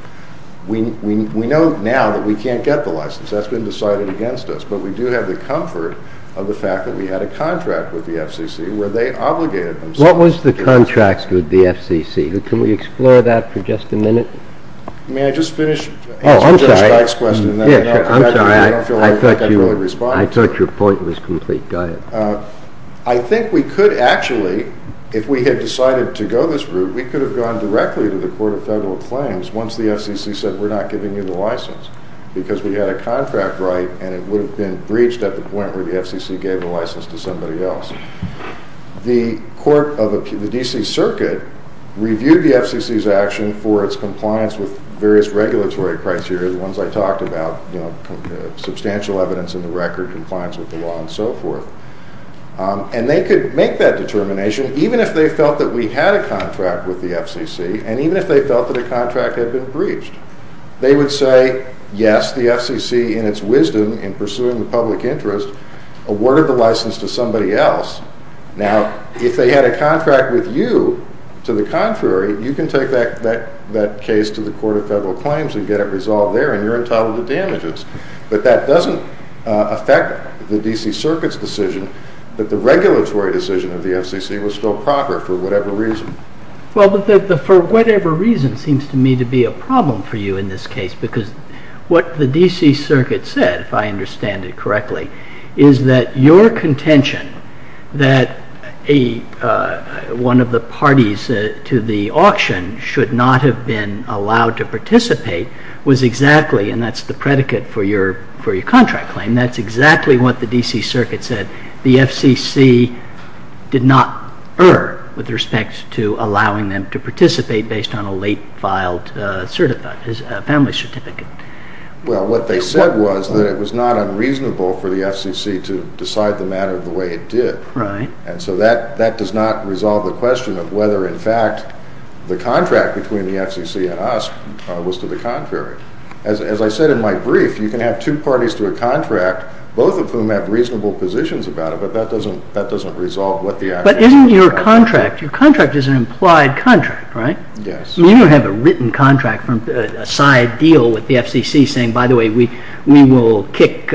We know now that we can't get the license. That's been decided against us, but we do have the comfort of the fact that we had a contract with the FCC where they obligated themselves... What was the contract with the FCC? Can we explore that for just a minute? May I just finish? Oh, I'm sorry. I thought your point was complete. I think we could actually, if we had decided to go this route, we could have gone directly to the Court of Federal Claims once the FCC said we're not giving you the license because we had a contract right, and it would have been breached at the point where the FCC gave the license to somebody else. The court of the D.C. Circuit reviewed the FCC's action for its compliance with various regulatory criteria, the ones I talked about, you know, substantial evidence in the record, compliance with the law, and so forth. And they could make that determination, even if they felt that we had a contract with the FCC, and even if they felt that a contract had been breached. They would say, yes, the FCC, in its wisdom, in pursuing the public interest, awarded the license to somebody else. Now, if they had a contract with you, to the contrary, you can take that case to the Court of Federal Claims and get it resolved there, and you're entitled to damages. But that doesn't affect the D.C. Circuit's decision that the regulatory decision of the FCC was still proper for whatever reason. Well, the for whatever reason seems to me to be a problem for you in this case because what the D.C. Circuit said, if I understand it correctly, is that your contention that one of the parties to the auction should not have been allowed to participate was exactly, and that's the predicate for your contract claim, that's exactly what the D.C. Circuit said. The FCC did not err with respect to allowing them to participate based on a late-filed family certificate. Well, what they said was that it was not unreasonable for the FCC to decide the matter the way it did. And so that does not resolve the question of whether, in fact, the contract between the FCC and us was to the contrary. As I said in my brief, you can have two parties to a contract, both of whom have reasonable positions about it, but that doesn't resolve what the idea is. But isn't your contract, your contract is an implied contract, right? Yes. You don't have a written contract, a side deal with the FCC saying, by the way, we will kick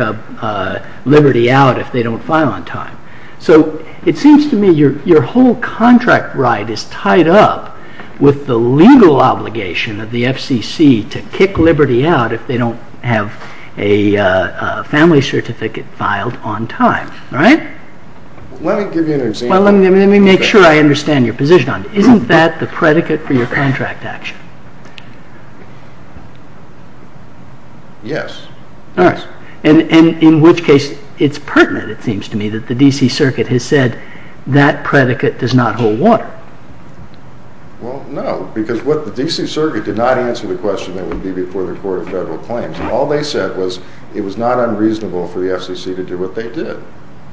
Liberty out if they don't file on time. So it seems to me your whole contract right is tied up with the legal obligation of the FCC to kick Liberty out if they don't have a family certificate filed on time, right? Let me give you an example. Well, let me make sure I understand your position on it. Isn't that the predicate for your contract action? Yes. Nice. And in which case it's pertinent, it seems to me, that the D.C. Circuit has said that predicate does not hold water. Well, no, because what the D.C. Circuit did not answer the question that would be before reporting federal claims. All they said was it was not unreasonable for the FCC to do what they did,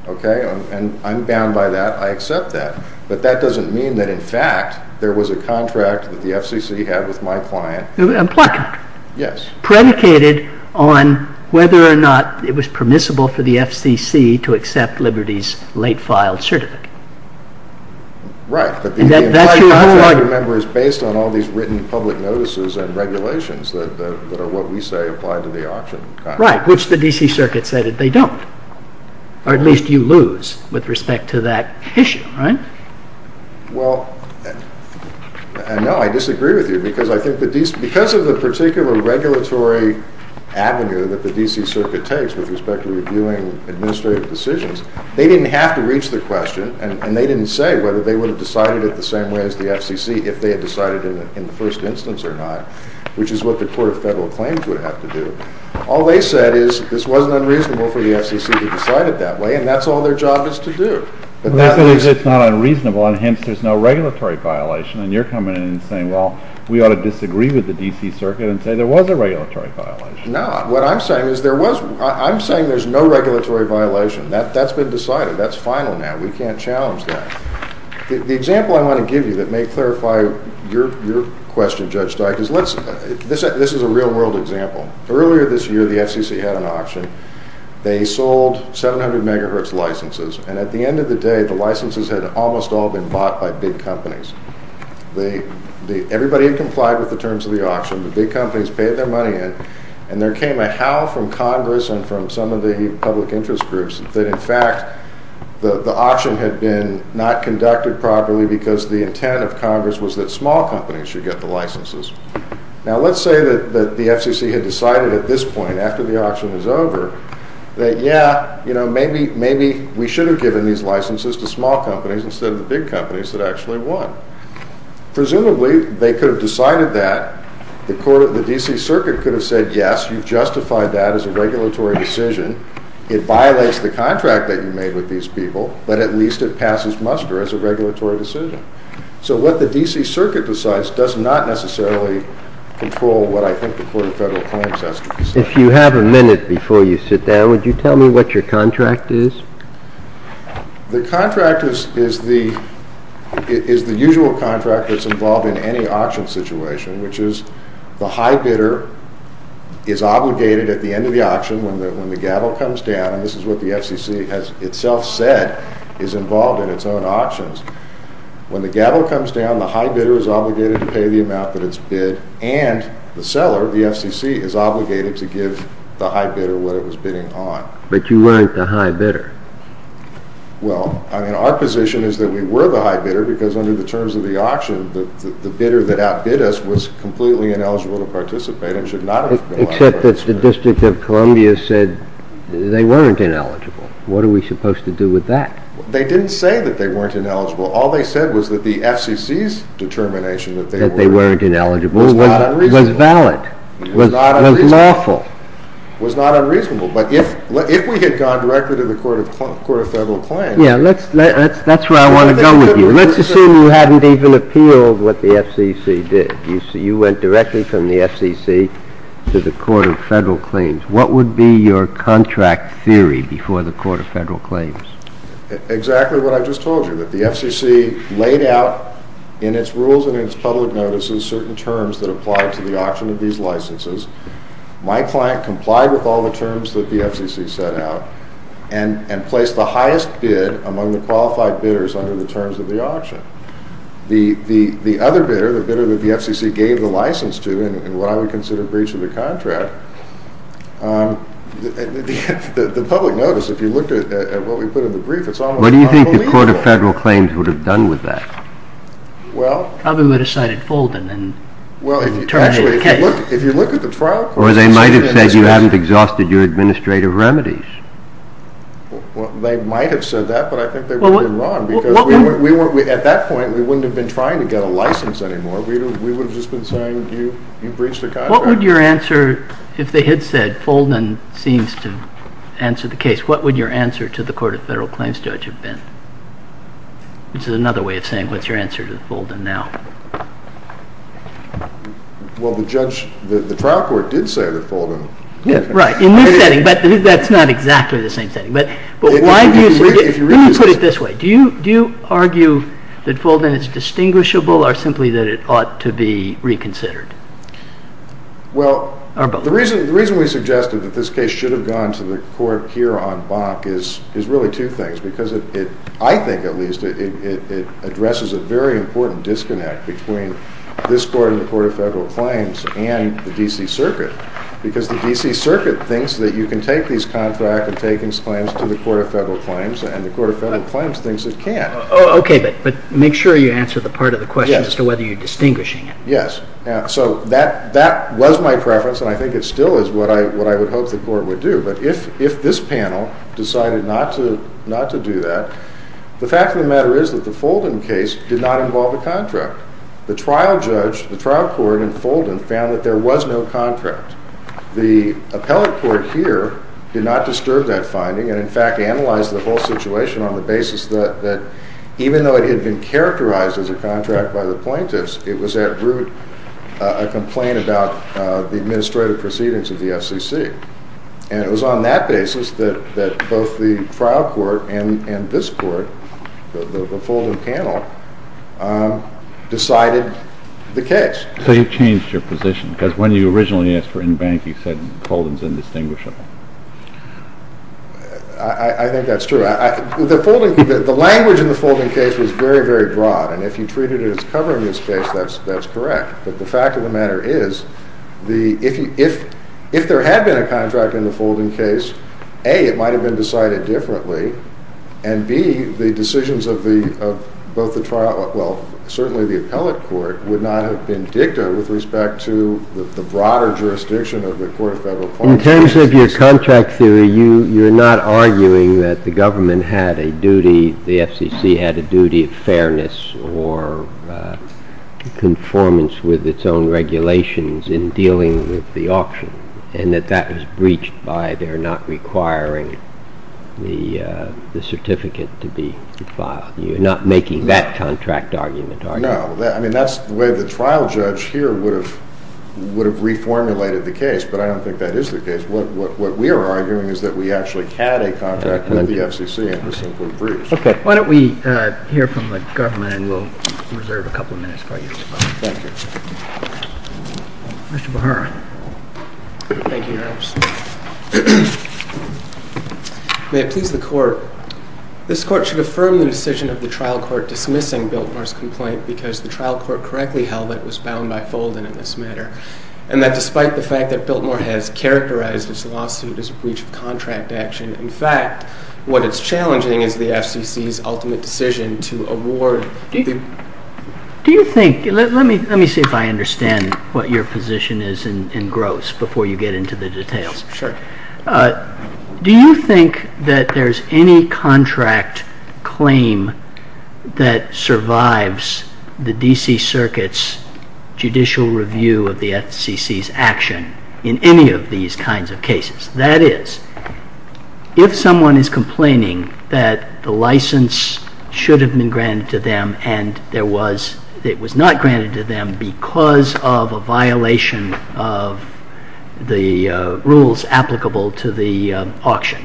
okay? And I'm bound by that. I accept that. But that doesn't mean that, in fact, there was a contract that the FCC had with my client. A contract? Yes. Predicated on whether or not it was permissible for the FCC to accept Liberty's late-filed certificate. Right, but the entire contract, remember, is based on all these written public notices and regulations that are what we say apply to the auction contract. Right, which the D.C. Circuit said that they don't. Or at least you lose with respect to that issue, right? Well, I know I disagree with you, because I think that because of the particular regulatory avenue that the D.C. Circuit takes with respect to reviewing administrative decisions, they didn't have to reach the question, and they didn't say whether they would have decided it the same way as the FCC if they had decided it in the first instance or not, which is what the court of federal claims would have to do. All they said is this wasn't unreasonable for the FCC to decide it that way, and that's all their job is to do. But that means it's not unreasonable, and hence there's no regulatory violation, and you're coming in and saying, well, we ought to disagree with the D.C. Circuit and say there was a regulatory violation. No, what I'm saying is there wasn't. I'm saying there's no regulatory violation. That's been decided. That's final now. We can't challenge that. The example I want to give you that may clarify your question, Judge Stein, is this is a real-world example. Earlier this year the FCC had an auction. They sold 700 megahertz licenses, and at the end of the day the licenses had almost all been bought by big companies. Everybody had complied with the terms of the auction. The big companies paid their money in, and there came a howl from Congress and from some of the public interest groups that in fact the auction had been not conducted properly because the intent of Congress was that small companies should get the licenses. Now, let's say that the FCC had decided at this point after the auction was over that, yeah, maybe we should have given these licenses to small companies instead of the big companies that actually won. Presumably they could have decided that. The D.C. Circuit could have said, yes, you justified that as a regulatory decision. It violates the contract that you made with these people, but at least it passes muster as a regulatory decision. So what the D.C. Circuit decides does not necessarily control what I think the Court of Federal Appointments has to decide. If you have a minute before you sit down, would you tell me what your contract is? The contract is the usual contract that's involved in any auction situation, which is the high bidder is obligated at the end of the auction when the gavel comes down, and this is what the FCC has itself said is involved in its own auctions. When the gavel comes down, the high bidder is obligated to pay the amount that it's bid, and the seller, the FCC, is obligated to give the high bidder what it was bidding on. But you weren't the high bidder. Well, I mean, our position is that we were the high bidder because under the terms of the auction, the bidder that outbid us was completely ineligible to participate and should not have been. Except that the District of Columbia said they weren't ineligible. What are we supposed to do with that? They didn't say that they weren't ineligible. All they said was that the FCC's determination that they weren't ineligible was valid, was lawful. It was not unreasonable, but if we had gone directly to the Court of Federal Claims... Yeah, that's where I want to go with you. Let's assume you hadn't even appealed what the FCC did. You went directly from the FCC to the Court of Federal Claims. What would be your contract theory before the Court of Federal Claims? Exactly what I just told you, that the FCC laid out in its rules and in its public notices certain terms that apply to the auction of these licenses. My client complied with all the terms that the FCC set out and placed the highest bid among the qualified bidders under the terms of the auction. The other bidder, the bidder that the FCC gave the license to, while we consider breach of the contract, the public notice, if you look at what we put in the brief, it's all in the contract. What do you think the Court of Federal Claims would have done with that? Probably would have cited Fulden and turned it into a case. Well, if you look at the trial process... Or they might have said you hadn't exhausted your administrative remedies. They might have said that, but I think they would have been wrong, because at that point we wouldn't have been trying to get a license anymore. We would have just been trying to breach the contract. What would your answer, if they had said Fulden seems to answer the case, what would your answer to the Court of Federal Claims judge have been? This is another way of saying, what's your answer to Fulden now? Well, the judge, the trial court did say to Fulden. Right, in this setting, but that's not exactly the same thing. But why do you say, let me put it this way. Do you argue that Fulden is distinguishable, or simply that it ought to be reconsidered? Well, the reason we suggested that this case should have gone to the court here on Bach is really two things. Because I think, at least, it addresses a very important disconnect between this Court and the Court of Federal Claims and the D.C. Circuit. Because the D.C. Circuit thinks that you can take these contracts and take these claims to the Court of Federal Claims, and the Court of Federal Claims thinks it can't. Okay, but make sure you answer the part of the question as to whether you're distinguishing them. Yes, so that was my preference, and I think it still is what I would hope the Court would do. But if this panel decided not to do that, the fact of the matter is that the Fulden case did not involve a contract. The trial judge, the trial court in Fulden, found that there was no contract. The appellate court here did not disturb that finding, and in fact analyzed the whole situation on the basis that, even though it had been characterized as a contract by the plaintiffs, it was at root a complaint about the administrative proceedings of the FCC. And it was on that basis that both the trial court and this court, the Fulden panel, decided the case. So you changed your position, because when you originally asked for in-bank, you said Fulden is indistinguishable. I think that's true. The language in the Fulden case is very, very broad, and if you treat it as covering this case, that's correct. But the fact of the matter is, if there had been a contract in the Fulden case, A, it might have been decided differently, and B, the decisions of both the trial court, well, certainly the appellate court, would not have been different with respect to the broader jurisdiction of the court of federal policy. In terms of your contract theory, you're not arguing that the government had a duty, the FCC had a duty of fairness or conformance with its own regulations in dealing with the auction, and that that was breached by their not requiring the certificate to be filed. You're not making that contract argument, are you? No. I mean, that's the way the trial judge here would have reformulated the case, but I don't think that is the case. What we are arguing is that we actually had a contract with the FCC and it was simply breached. Why don't we hear from the government, and we'll reserve a couple of minutes for you. Thank you. Mr. Behar. Thank you, Your Honor. May it please the Court, this Court should affirm the decision of the trial court dismissing Biltmore's complaint because the trial court correctly held that it was found by Fulton in this matter, and that despite the fact that Biltmore has characterized this lawsuit as breach of contract action, in fact, what is challenging is the FCC's ultimate decision to award due. Do you think, let me see if I understand what your position is in gross before you get into the details. Sure. Do you think that there's any contract claim that survives the D.C. Circuit's judicial review of the FCC's action in any of these kinds of cases? That is, if someone is complaining that the license should have been granted to them and it was not granted to them because of a violation of the rules applicable to the auction,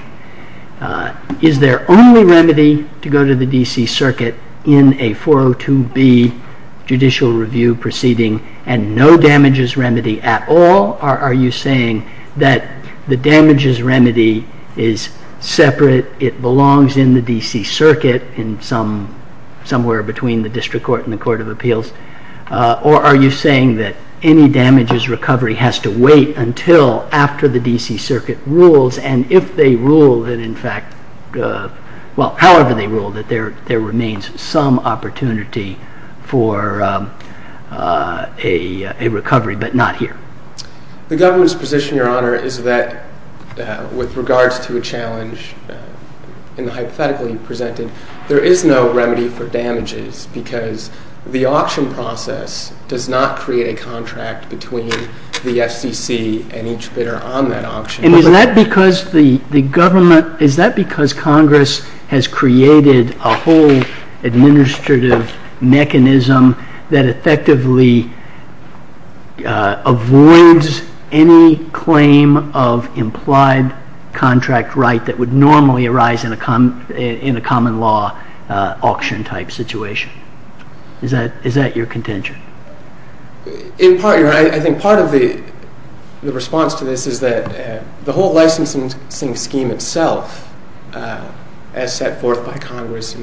is there only remedy to go to the D.C. Circuit in a 402B judicial review proceeding and no damages remedy at all, or are you saying that the damages remedy is separate, it belongs in the D.C. Circuit somewhere between the district court and the court of appeals, or are you saying that any damages recovery has to wait until after the D.C. Circuit rules, and if they rule that in fact, well, however they rule that there remains some opportunity for a recovery but not here? The government's position, Your Honor, is that with regards to a challenge in the hypothetical you presented, there is no remedy for damages because the auction process does not create a contract between the FCC and each bidder on that auction. And is that because the government, is that because Congress has created a whole administrative mechanism that effectively avoids any claim of implied contract right that would normally arise in a common law auction type situation? Is that your contention? In part, Your Honor, I think part of the response to this is that the whole licensing scheme itself, as set forth by Congress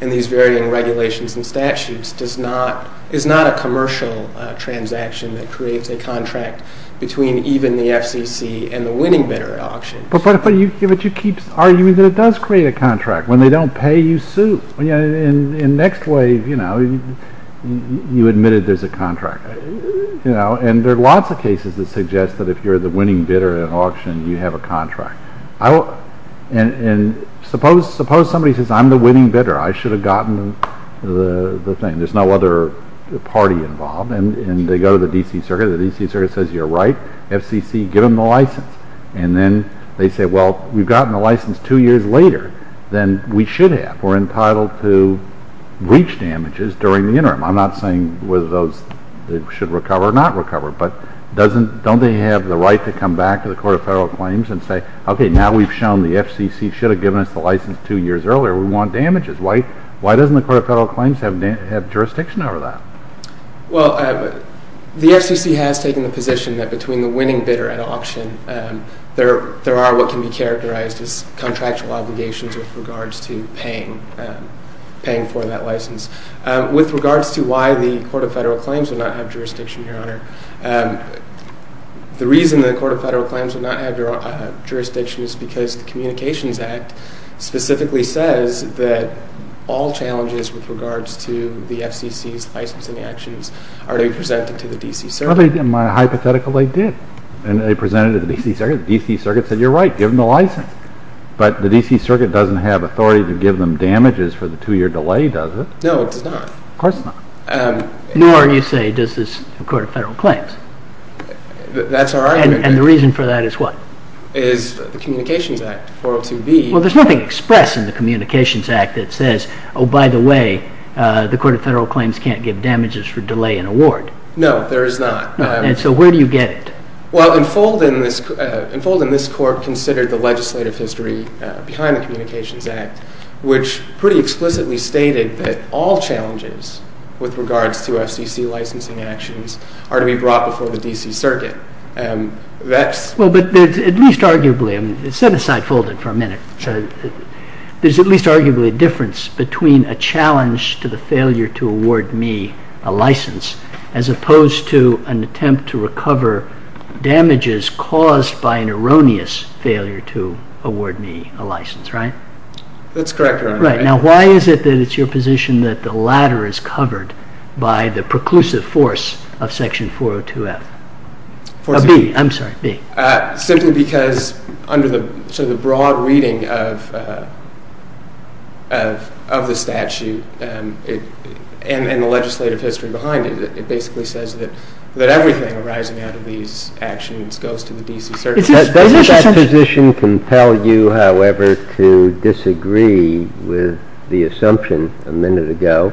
in these varying regulations and statutes, is not a commercial transaction that creates a contract between even the FCC and the winning bidder at auction. But you keep arguing that it does create a contract. When they don't pay, you sue. And next wave, you admitted there's a contract. And there are lots of cases that suggest that if you're the winning bidder at an auction, you have a contract. And suppose somebody says, I'm the winning bidder. I should have gotten the thing. There's no other party involved. And they go to the D.C. Circuit. The D.C. Circuit says, You're right. FCC, give them the license. And then they say, Well, we've gotten the license two years later than we should have. We're entitled to breach damages during the interim. I'm not saying whether those should recover or not recover. But don't they have the right to come back to the Court of Federal Claims and say, Okay, now we've shown the FCC should have given us the license two years earlier. We want damages. Why doesn't the Court of Federal Claims have jurisdiction over that? Well, the FCC has taken the position that between the winning bidder at auction, there are what can be characterized as contractual obligations with regards to paying for that license. With regards to why the Court of Federal Claims will not have jurisdiction, Your Honor, the reason the Court of Federal Claims will not have jurisdiction is because the Communications Act specifically says that all challenges with regards to the FCC's licensing actions are presented to the D.C. Circuit. In my hypothetical, they did. And they presented it to the D.C. Circuit. The D.C. Circuit said, You're right. Give them the license. But the D.C. Circuit doesn't have authority to give them damages for the two-year delay, does it? No, it does not. Of course not. Nor, you say, does this Court of Federal Claims. That's our argument. And the reason for that is what? Is the Communications Act. Well, there's nothing expressed in the Communications Act that says, Oh, by the way, the Court of Federal Claims can't give damages for delay in award. No, there is not. And so where do you get it? Well, in Folden, this Court considered the legislative history behind the Communications Act, which pretty explicitly stated that all challenges with regards to FCC licensing actions are to be brought before the D.C. Circuit. Well, but at least arguably, set aside Folden for a minute, there's at least arguably a difference between a challenge to the failure to award me a license as opposed to an attempt to recover damages caused by an erroneous failure to award me a license, right? That's correct, Your Honor. Right. Now, why is it that it's your position that the latter is covered by the preclusive force of Section 402F? Or B, I'm sorry, B. Simply because under the sort of broad reading of the statute and the legislative history behind it, it basically says that everything arising out of these actions goes to the D.C. Circuit. Does that position compel you, however, to disagree with the assumption a minute ago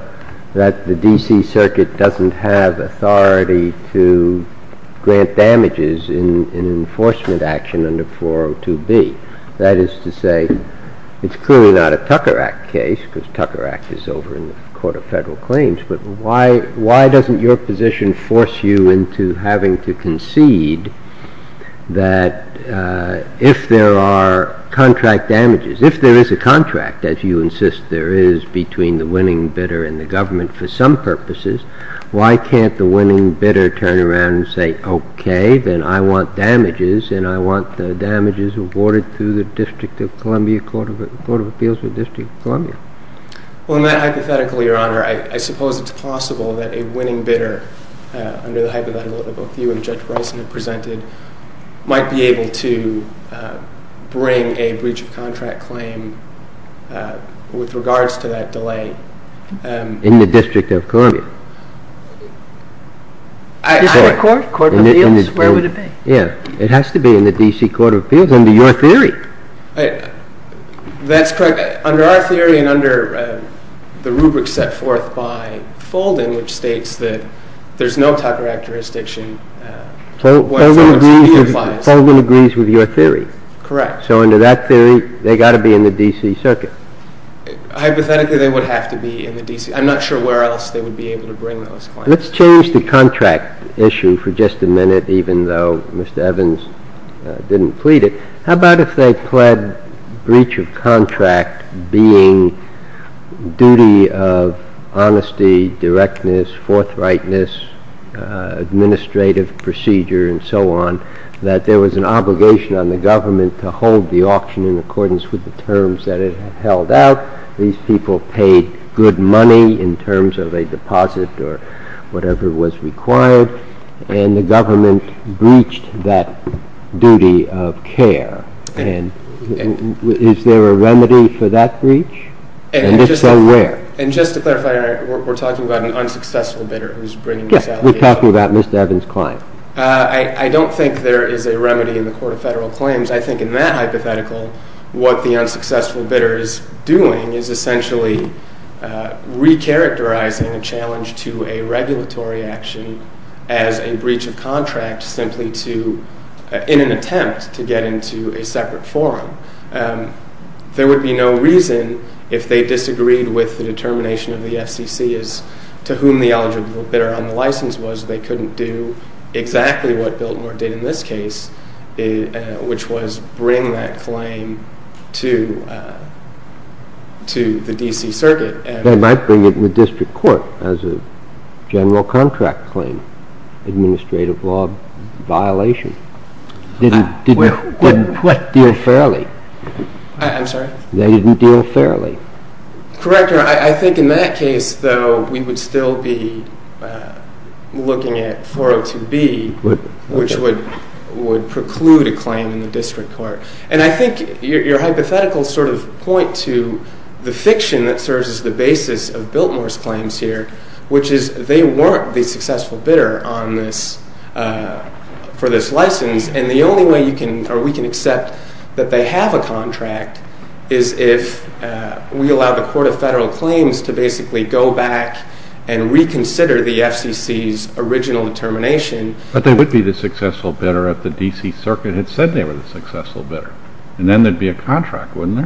that the D.C. Circuit doesn't have authority to grant damages in enforcement action under 402B? That is to say, it's clearly not a Tucker Act case, because Tucker Act is over in the Court of Federal Claims, but why doesn't your position force you into having to concede that if there are contract damages, if there is a contract, as you insist there is, between the winning bidder and the government for some purposes, why can't the winning bidder turn around and say, okay, then I want damages, and I want the damages awarded through the District of Columbia Court of Appeals or District of Columbia? Well, hypothetically, Your Honor, I suppose it's possible that a winning bidder, under the hypothetical view that Judge Rosen had presented, might be able to bring a breach of contract claim with regards to that delay. In the District of Columbia? District Court? Court of Appeals? Where would it be? Yeah. It has to be in the D.C. Court of Appeals under your theory. That's correct. Under our theory and under the rubric set forth by Fulding, which states that there's no type of requirements that should be used by the court. Fulding agrees with your theory? Correct. So under that theory, they've got to be in the D.C. Circuit? Hypothetically, they would have to be in the D.C. I'm not sure where else they would be able to bring those claims. Let's change the contract issue for just a minute, even though Mr. Evans didn't plead it. How about if they pled breach of contract being duty of honesty, directness, forthrightness, administrative procedure, and so on, that there was an obligation on the government to hold the auction in accordance with the terms that it held out, these people paid good money in terms of a deposit or whatever was required, and the government breached that duty of care. And is there a remedy for that breach? And if so, where? And just to clarify, we're talking about an unsuccessful bidder who's bringing this out? Yes, we're talking about Mr. Evans' client. I don't think there is a remedy in the Court of Federal Claims. I think in that hypothetical, what the unsuccessful bidder is doing is essentially recharacterizing a challenge to a regulatory action as a breach of contract simply in an attempt to get into a separate forum. There would be no reason if they disagreed with the determination of the FCC as to whom the eligible bidder on the license was, they couldn't do exactly what Biltmore did in this case, which was bring that claim to the D.C. Circuit. They might bring it to the district court as a general contract claim, administrative law violation. They didn't deal fairly. I'm sorry? They didn't deal fairly. Correct, Your Honor. I think in that case, though, we would still be looking at 402B, which would preclude a claim in the district court. I think your hypotheticals sort of point to the fiction that serves as the basis of Biltmore's claims here, which is they weren't the successful bidder for this license. The only way we can accept that they have a contract is if we allow the Court of Federal Claims to basically go back and reconsider the FCC's original determination. But they would be the successful bidder if the D.C. Circuit had said they were the successful bidder, and then there'd be a contract, wouldn't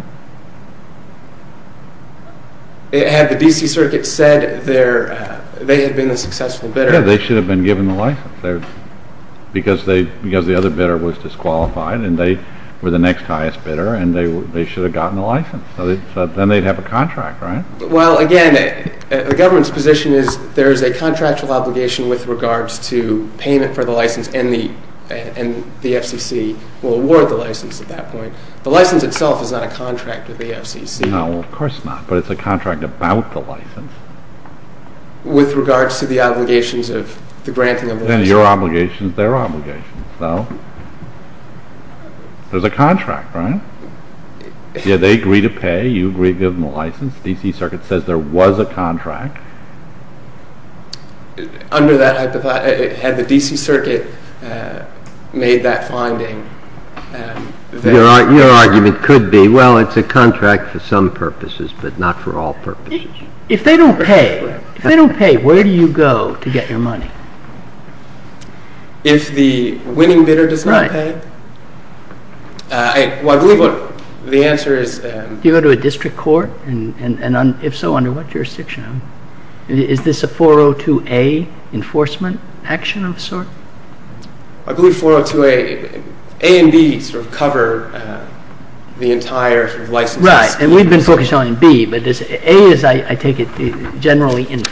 there? Had the D.C. Circuit said they had been a successful bidder? Yeah, they should have been given the license, because the other bidder was disqualified and they were the next highest bidder and they should have gotten the license. So then they'd have a contract, right? Well, again, the government's position is there's a contractual obligation with regards to payment for the license, and the FCC will award the license at that point. The license itself is not a contract with the FCC. No, of course not, but it's a contract about the license. With regards to the obligations of the granting of the license. Yeah, your obligations, their obligations. So there's a contract, right? Yeah, they agree to pay, you agree to give them the license, the D.C. Circuit says there was a contract. Under that hypothesis, had the D.C. Circuit made that finding? Your argument could be, well, it's a contract for some purposes, but not for all purposes. If they don't pay, if they don't pay, where do you go to get your money? If the winning bidder does not pay? Well, I believe the answer is... Do you go to a district court? And if so, under what jurisdiction? Is this a 402A enforcement action of a sort? I believe 402A, A and B sort of cover the entire license. Right, and we've been focused on B, but A is, I take it, generally in.